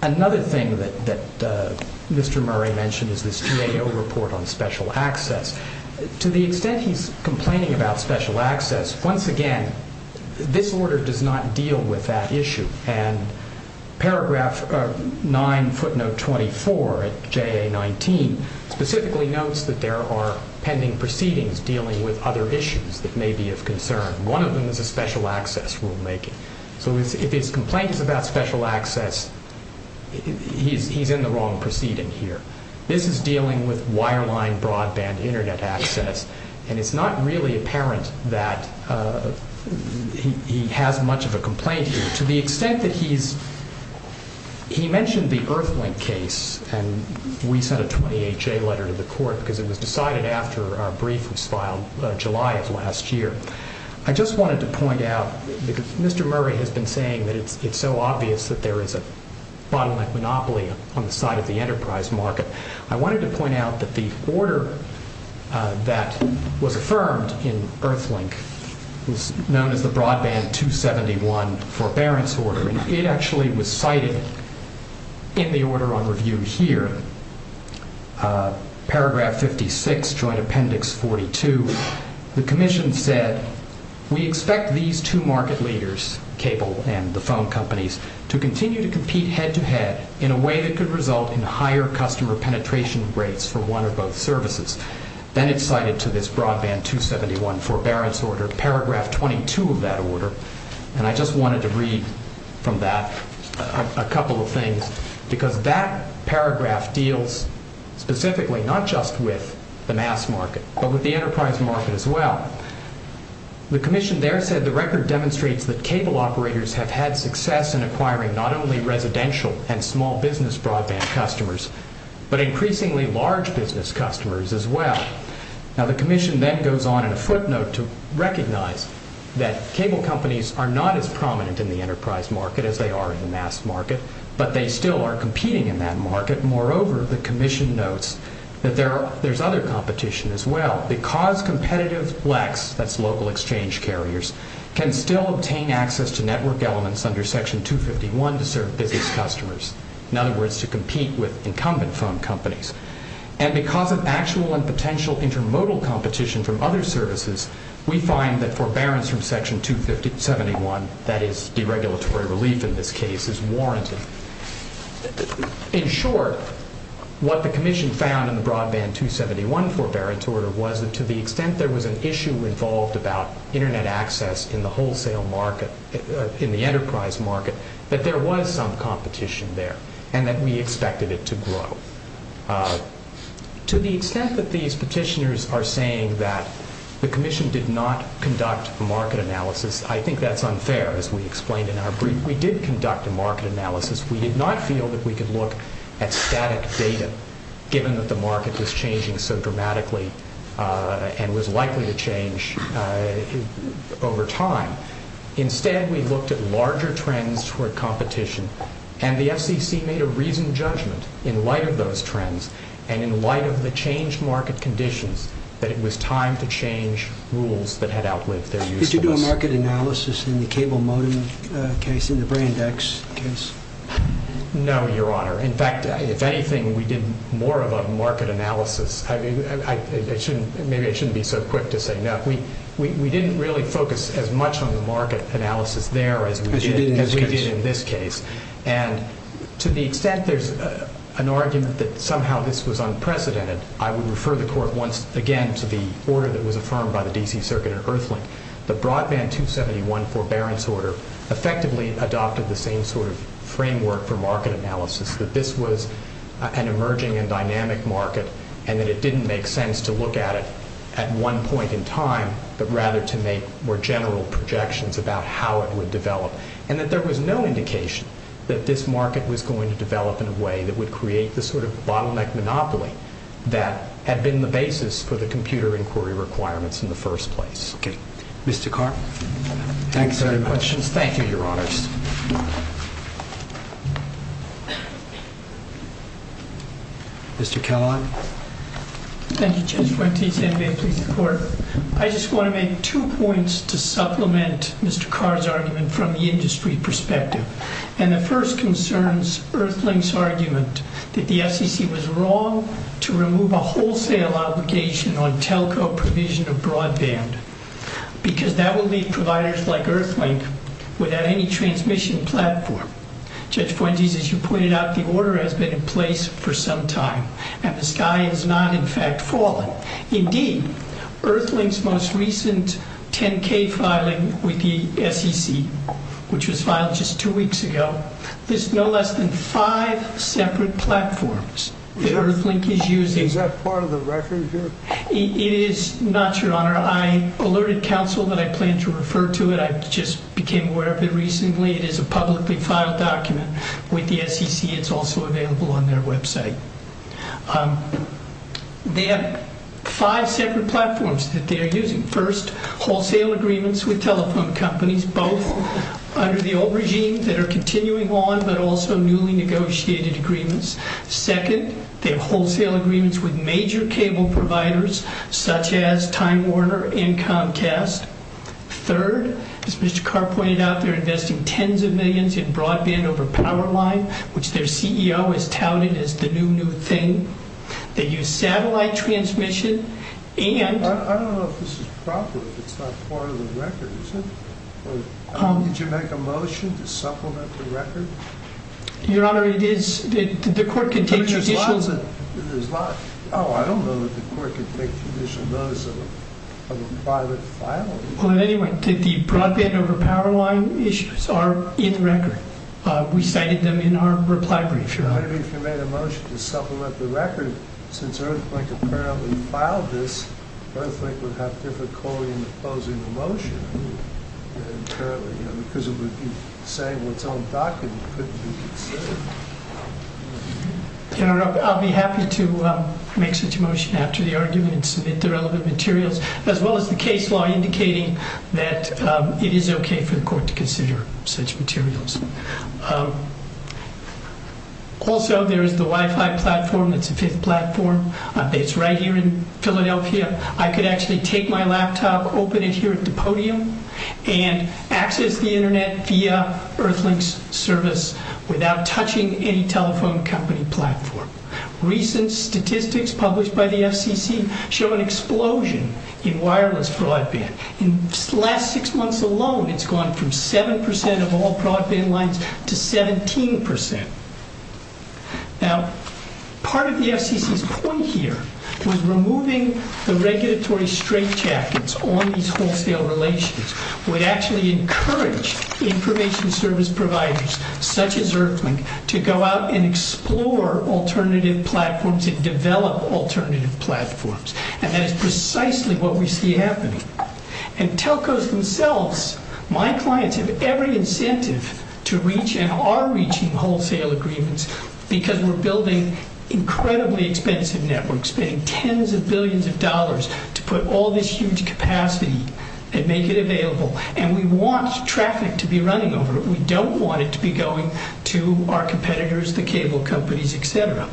Another thing that Mr. Murray mentioned is this 2AO report on special access. To the extent he's complaining about special access, once again, this order does not deal with that issue, and paragraph 9, footnote 24 of JA-19 specifically notes that there are pending proceedings dealing with other issues that may be of concern. One of them is a special access rulemaking. So if he's complaining about special access, he's in the wrong proceeding here. This is dealing with wireline broadband Internet access, and it's not really apparent that he has much of a complaint. To the extent that he's... He mentioned the Earthlink case, and we sent a 20HA letter to the court because it was decided after our brief was filed July of last year. I just wanted to point out, because Mr. Murray has been saying that it's so obvious that there is a broadband monopoly on the side of the enterprise market, I wanted to point out that the order that was affirmed in Earthlink was known as the Broadband 271 Forbearance Order, and it actually was cited in the order on review here. Paragraph 56, Joint Appendix 42. The commission said, we expect these two market leaders, cable and the phone companies, to continue to compete head-to-head in a way that could result in higher customer penetration rates for one or both services. Then it's cited to this Broadband 271 Forbearance Order, paragraph 22 of that order, and I just wanted to read from that a couple of things because that paragraph deals specifically, not just with the mass market, but with the enterprise market as well. The commission there said, the record demonstrates that cable operators have had success in acquiring not only residential and small business broadband customers, but increasingly large business customers as well. Now the commission then goes on in a footnote to recognize that cable companies are not as prominent in the enterprise market as they are in the mass market, but they still are competing in that market. Moreover, the commission notes that there's other competition as well. Because competitive flex, that's local exchange carriers, can still obtain access to network elements under Section 251 to serve business customers. In other words, to compete with incumbent phone companies. And because of actual and potential intermodal competition from other services, we find that forbearance from Section 271, that is deregulatory relief in this case, is warranted. In short, what the commission found in the Broadband 271 forbearance order was that to the extent there was an issue involved about internet access in the wholesale market, in the enterprise market, that there was some competition there, and that we expected it to grow. To the extent that these petitioners are saying that the commission did not conduct a market analysis, I think that's unfair, as we explained in our brief. We did conduct a market analysis. We did not feel that we could look at static data, given that the market was changing so dramatically and was likely to change over time. Instead, we looked at larger trends for competition, and the SEC made a reasoned judgment in light of those trends and in light of the changed market conditions that it was time to change rules that had outlived their usefulness. Did you do a market analysis in the cable modem case, in the Braindex case? No, Your Honor. In fact, if anything, we did more of a market analysis. Maybe I shouldn't be so quick to say no. We didn't really focus as much on the market analysis there as we did in this case. And to the extent there's an argument that somehow this was unprecedented, the Broadband 271 Forbearance Order effectively adopted the same sort of framework for market analysis, that this was an emerging and dynamic market, and that it didn't make sense to look at it at one point in time, but rather to make more general projections about how it would develop, and that there was no indication that this market was going to develop in a way that would create this sort of bottleneck monopoly that had been the basis for the computer inquiry requirements in the first place. Mr. Carr? Thanks very much. Thank you, Your Honor. Mr. Kellogg? Thank you, Judge. I just want to make two points to supplement Mr. Carr's argument from the industry perspective. And the first concerns Earthling's argument that the SEC was wrong to remove a wholesale obligation on telco provision of broadband, because that would leave providers like Earthling without any transmission platform. Judge Buendia, as you pointed out, the order has been in place for some time, Indeed, Earthling's most recent 10-K filing with the SEC, which was filed just two weeks ago, there's no less than five separate platforms that Earthling is using. Is that part of the record, Judge? It is not, Your Honor. I alerted counsel that I plan to refer to it. I just became aware of it recently. It is a publicly filed document with the SEC. It's also available on their website. They have five separate platforms that they are using. First, wholesale agreements with telephone companies, both under the old regime that are continuing on, but also newly negotiated agreements. Second, they have wholesale agreements with major cable providers, such as Time Warner and Comcast. Third, as Mr. Carr pointed out, they're investing tens of millions in broadband over Powerline, which their CEO is touting as the new, new thing. They use satellite transmission and- I don't know if this is proper. It's not part of the record, is it? Did you make a motion to supplement the record? Your Honor, it is. The court can take your- But it is locked. It is locked. Oh, I don't know that the court can take initial notice of a private file. Well, anyway, the broadband over Powerline issues are in record. We cited them in our reply brief, Your Honor. I don't know if you made a motion to supplement the record. Since Earthquake apparently filed this, Earthquake would have difficulty in opposing the motion. Your Honor, I'll be happy to make such a motion after the argument and submit the relevant materials, as well as the case law indicating that it is okay for the court to consider such materials. Also, there is the Wi-Fi platform. It's the fifth platform. It's right here in Philadelphia. I could actually take my laptop, open it here at the podium, and access the Internet via Earthlink's service without touching any telephone company platform. Recent statistics published by the FCC show an explosion in wireless broadband. In the last six months alone, it's gone from 7% of all broadband lines to 17%. Now, part of the FCC's point here was removing the regulatory straitjackets on these wholesale relationships. We actually encourage information service providers, such as Earthlink, to go out and explore alternative platforms and develop alternative platforms. And that's precisely what we see happening. And Telcos themselves, my clients, have every incentive to reach and are reaching wholesale agreements because we're building incredibly expensive networks, and we're spending tens of billions of dollars to put all this huge capacity and make it available. And we want traffic to be running over it. We don't want it to be going to our competitors, the cable companies, et cetera.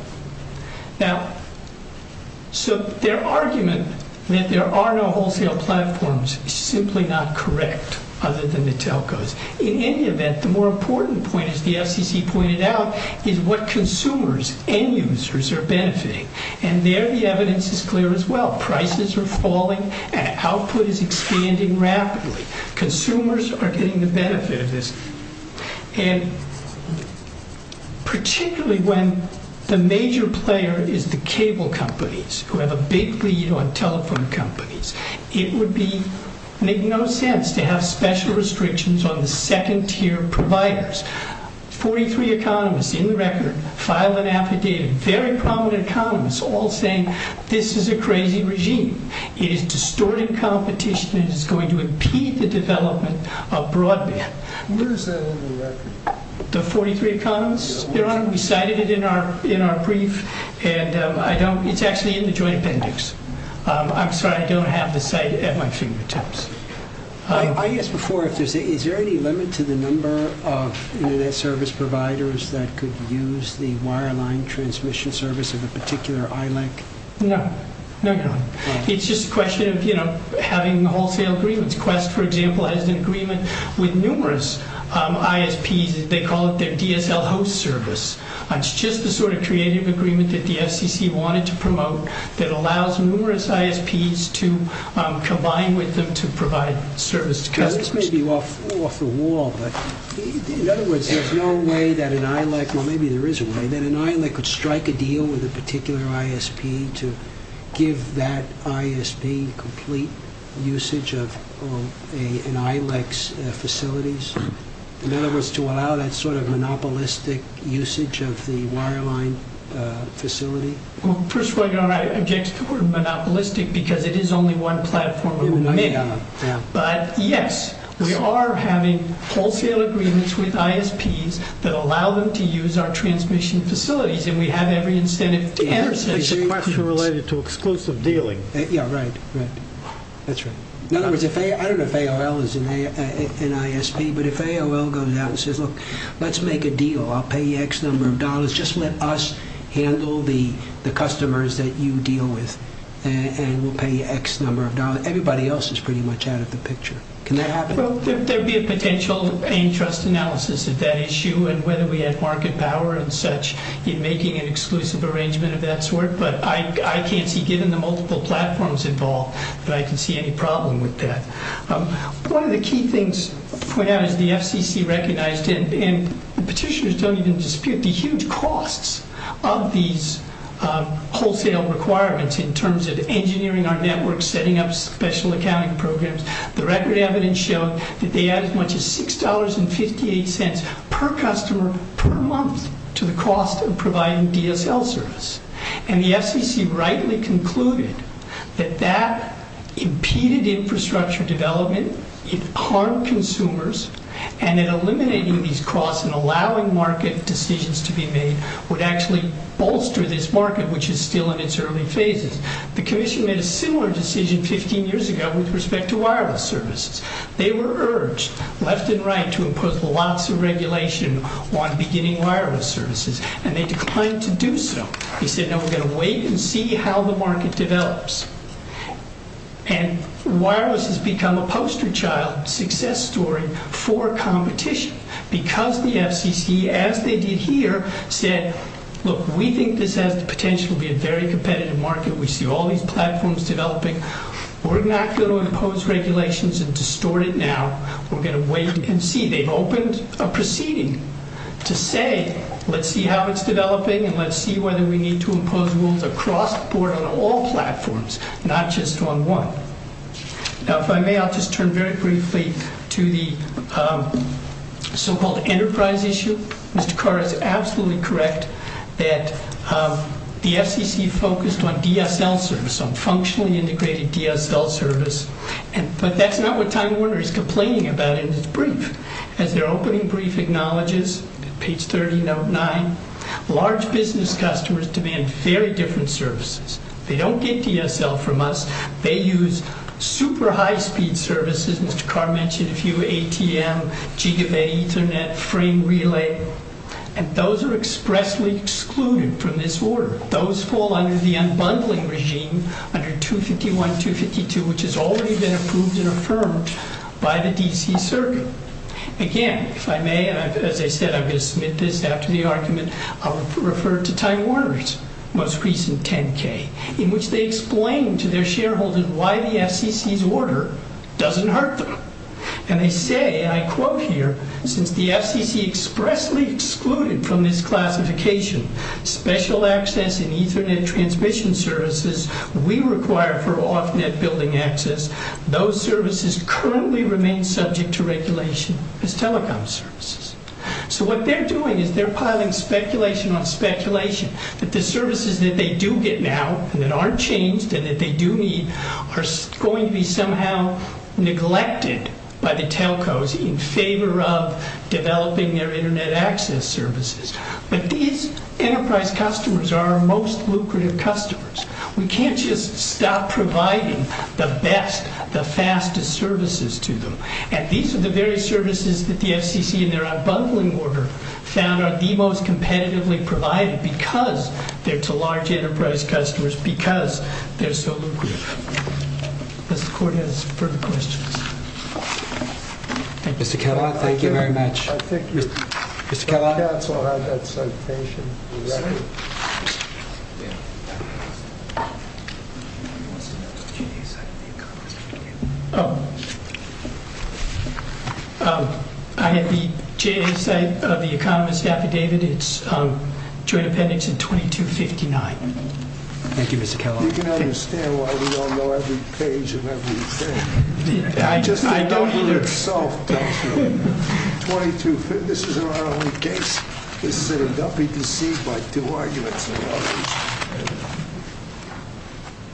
So their argument that there are no wholesale platforms is simply not correct, other than the Telcos. In any event, the more important point, as the FCC pointed out, is what consumers and users are benefiting. And there the evidence is clear as well. Prices are falling, and output is expanding rapidly. Consumers are getting the benefit of this. And particularly when the major player is the cable companies, who have a big lead on telephone companies, it would make no sense to have special restrictions on the second-tier providers. 43 economists, in the record, file an affidavit. Very prominent economists all say, this is a crazy regime. It is distorting competition and is going to impede the development of broadband. Where is that in the record? The 43 economists? Your Honor, we cited it in our brief, and it's actually in the joint appendix. I'm sorry, I don't have the site at my fingertips. I asked before, is there any limit to the number of internet service providers that could use the wireline transmission service in a particular island? No. It's just a question of having wholesale agreements. Quest, for example, has an agreement with numerous ISPs. They call it their DSL host service. It's just the sort of creative agreement that the FCC wanted to promote that allows numerous ISPs to combine with them to provide service. This may be off the wall, but in other words, there's no way that an ILEC, or maybe there is a way, that an ILEC would strike a deal with a particular ISP to give that ISD complete usage of an ILEC's facilities? In other words, to allow that sort of monopolistic usage of the wireline facility? Well, first of all, you know, I object to monopolistic because it is only one platform. But, yes, we are having wholesale agreements with ISPs that allow them to use our transmission facilities, and we have every incentive to intercede. So you might be related to exclusive dealing. Yeah, right. That's right. In other words, I don't know if AOL is an ISP, but if AOL goes out and says, look, let's make a deal. I'll pay you X number of dollars. Just let us handle the customers that you deal with, and we'll pay you X number of dollars. Everybody else is pretty much out of the picture. Can that happen? Well, there'd be a potential interest analysis of that issue and whether we had market power and such in making an exclusive arrangement of that sort. But I can't see, given the multiple platforms involved, that I can see any problem with that. One of the key things put out is the FCC recognized and the petitioners don't even dispute the huge costs of these wholesale requirements in terms of engineering our network, setting up special accounting programs. The record evidence showed that they add as much as $6.58 per customer per month to the cost of providing DSL service. And the FCC rightly concluded that that impeded infrastructure development, it harmed consumers, and in eliminating these costs and allowing market decisions to be made would actually bolster this market, which is still in its early phases. The commission made a similar decision 15 years ago with respect to wireless services. They were urged left and right to impose lots of regulation on beginning wireless services, and they declined to do so. They said, no, we're going to wait and see how the market develops. And wireless has become a poster child success story for competition because the FCC, as they did here, said, look, we think this has the potential to be a very competitive market. We see all these platforms developing. We're not going to impose regulations and distort it now. We're going to wait and see. They opened a proceeding to say, let's see how it's developing and let's see whether we need to impose rules across the board on all platforms, not just on one. Now, if I may, I'll just turn very briefly to the so-called enterprise issue. Mr. Carr is absolutely correct that the FCC focused on DSL service, on functionally integrated DSL service. But that's not what Tom Warner is complaining about in his brief. As their opening brief acknowledges, page 30, note 9, large business customers demand very different services. They don't get DSL from us. They use super high-speed services, which Carr mentioned a few, ATM, GDBET, Ethernet, frame relay, and those are expressly excluded from this order. Those fall under the unbundling regime under 251, 252, which has already been approved and affirmed by the DC circuit. Again, if I may, as I said, I'm going to submit this after the argument. I'll refer to Tom Warner's most recent 10-K, in which they explain to their shareholders why the FCC's order doesn't hurt them. And they say, and I quote here, since the FCC expressly excluded from this classification special access and Ethernet transmission services we require for off-net building access, those services currently remain subject to regulation as telecom services. So what they're doing is they're piling speculation on speculation that the services that they do get now that aren't changed and that they do need are going to be somehow neglected by the telcos in favor of developing their Internet access services. But these enterprise customers are our most lucrative customers. We can't just stop providing the best, the fastest services to them. And these are the very services that the FCC in their unbundling order found are the most competitively provided because they're to large enterprise customers because they're so lucrative. Does the court have any further questions? Mr. Kellogg, thank you very much. Thank you. Mr. Kellogg. That's all right. That's my station. I am the chair of the economist's affidavit. It's trade offendance in 2259. Thank you, Mr. Kellogg. You can understand why we don't know every page of every thing. I don't. 2259, this is our only case. This is a WC by two arguments.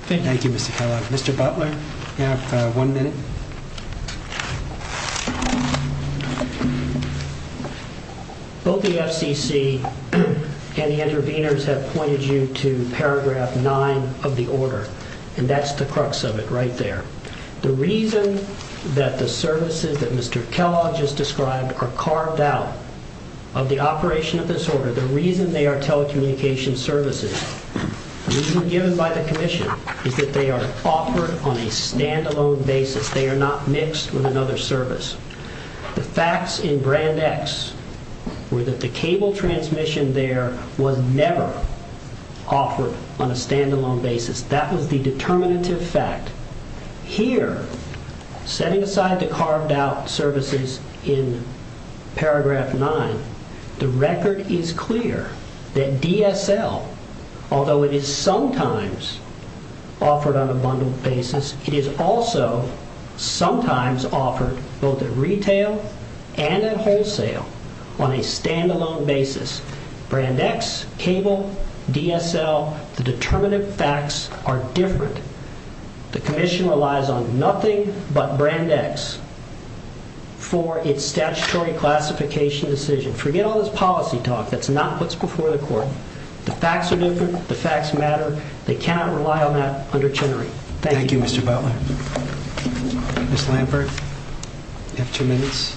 Thank you, Mr. Kellogg. Mr. Butler, you have one minute. Both the FCC and the interveners have pointed you to paragraph nine of the order, and that's the crux of it right there. The reason that the services that Mr. Kellogg just described are carved out of the operation of this order, the reason they are telecommunications services, the reason given by the commission is that they are offered on a stand-alone basis. They are not mixed with another service. The facts in brand X were that the cable transmission there was never offered on a stand-alone basis. That was the determinative fact. Here, set inside the carved-out services in paragraph nine, the record is clear that DSL, although it is sometimes offered on an abundant basis, it is also sometimes offered both at retail and at wholesale on a stand-alone basis. Brand X, cable, DSL, the determinative facts are different. The commission relies on nothing but brand X for its statutory classification decision. Forget all this policy talk. That's not what's before the court. The facts are different. The facts matter. They cannot rely on that under Chenery. Thank you, Mr. Butler. Ms. Lambert, you have two minutes.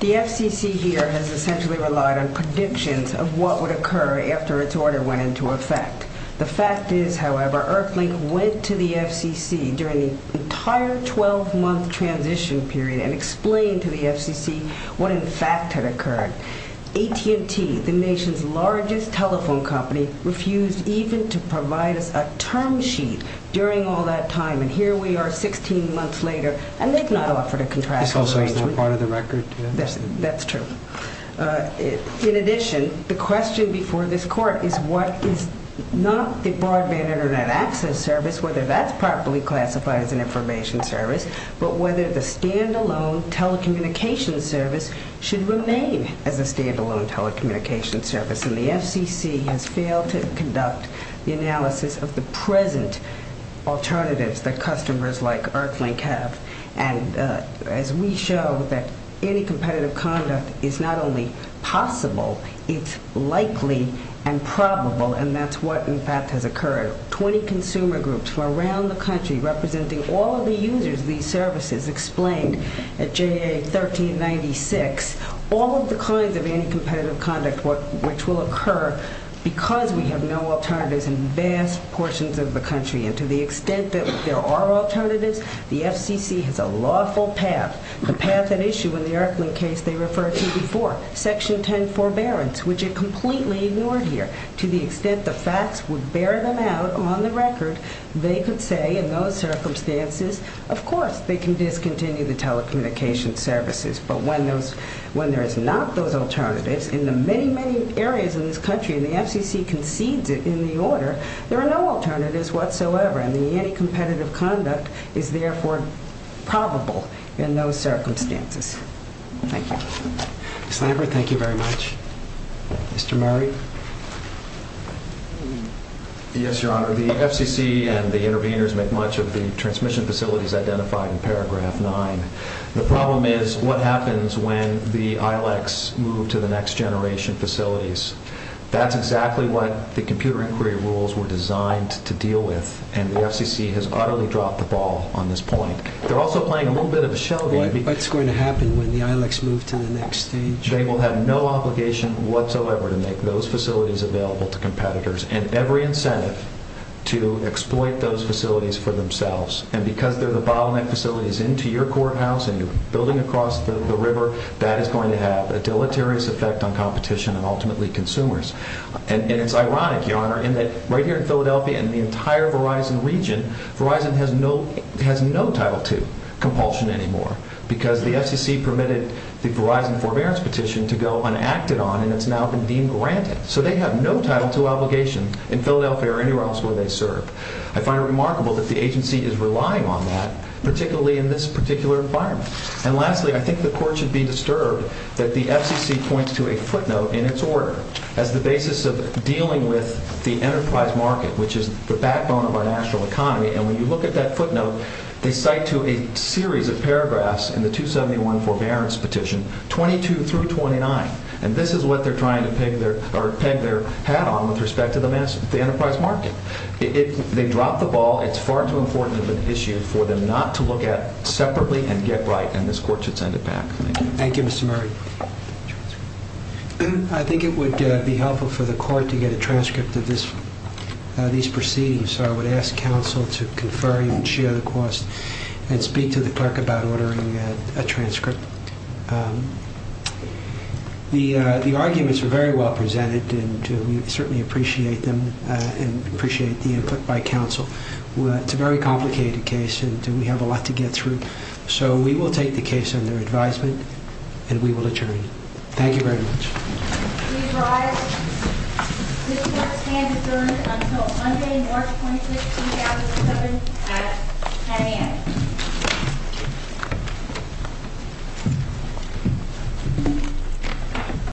The FCC here has essentially relied on predictions of what would occur after its order went into effect. The fact is, however, Earthlink went to the FCC during the entire 12-month transition period and explained to the FCC what in fact had occurred. AT&T, the nation's largest telephone company, refused even to provide a term sheet during all that time, and here we are 16 months later, and they've not offered a contractual agreement. It's also not part of the record. That's true. In addition, the question before this court is not the broadband Internet access service, whether that's properly classified as an information service, but whether the stand-alone telecommunications service should remain as a stand-alone telecommunications service, and the FCC has failed to conduct the analysis of the present alternatives that customers like Earthlink have, and as we show that any competitive contract is not only possible, it's likely and probable, and that's what in fact has occurred. Twenty consumer groups from around the country representing all of the users of these services explained at J.A. 1396 all of the kinds of incompetitive conduct which will occur because we have no alternatives in vast portions of the country, and to the extent that there are alternatives, the FCC has a lawful path, a path at issue in the Earthlink case they referred to before, Section 10 forbearance, which it completely ignored here, to the extent the facts would bear them out on the record, they could say in those circumstances, of course they can discontinue the telecommunications services, but when there is not those alternatives in the many, many areas in this country, and the FCC concedes it in the order, there are no alternatives whatsoever, and any competitive conduct is therefore probable in those circumstances. Thank you. Mr. Lambert, thank you very much. Mr. Murray? Yes, Your Honor. The FCC and the interveners make much of the transmission facilities identified in paragraph 9. The problem is what happens when the ILX move to the next generation facilities. That's exactly what the computer inquiry rules were designed to deal with, and the FCC has utterly dropped the ball on this point. They're also playing a little bit of a show game. What's going to happen when the ILX move to the next stage? They will have no obligation whatsoever to make those facilities available to competitors, and every incentive to exploit those facilities for themselves, and because they're the bottleneck facilities into your courthouse and building across the river, that is going to have a deleterious effect on competition and ultimately consumers. And it's ironic, Your Honor, in that right here in Philadelphia and the entire Verizon region, Verizon has no title to compulsion anymore because the FCC permitted the Verizon forbearance petition to go unacted on, and it's now been being granted. So they have no title to obligation in Philadelphia or anywhere else where they serve. I find it remarkable that the agency is relying on that, particularly in this particular environment. And lastly, I think the Court should be disturbed that the FCC points to a footnote in its order as the basis of dealing with the enterprise market, which is the backbone of our national economy, and when you look at that footnote, they cite to a series of paragraphs in the 271 forbearance petition, 22 through 29, and this is what they're trying to peg their hat on with respect to the enterprise market. They dropped the ball. It's far too important of an issue for them not to look at separately and get right, and this Court should send it back. Thank you, Mr. Murray. I think it would be helpful for the Court to get a transcript of these proceedings, so I would ask counsel to confer and share the course and speak to the Clerk about ordering a transcript. The arguments are very well presented, and we certainly appreciate them and appreciate being put by counsel. It's a very complicated case, and we have a lot to get through, so we will take the case under advisement, and we will adjourn. Thank you very much.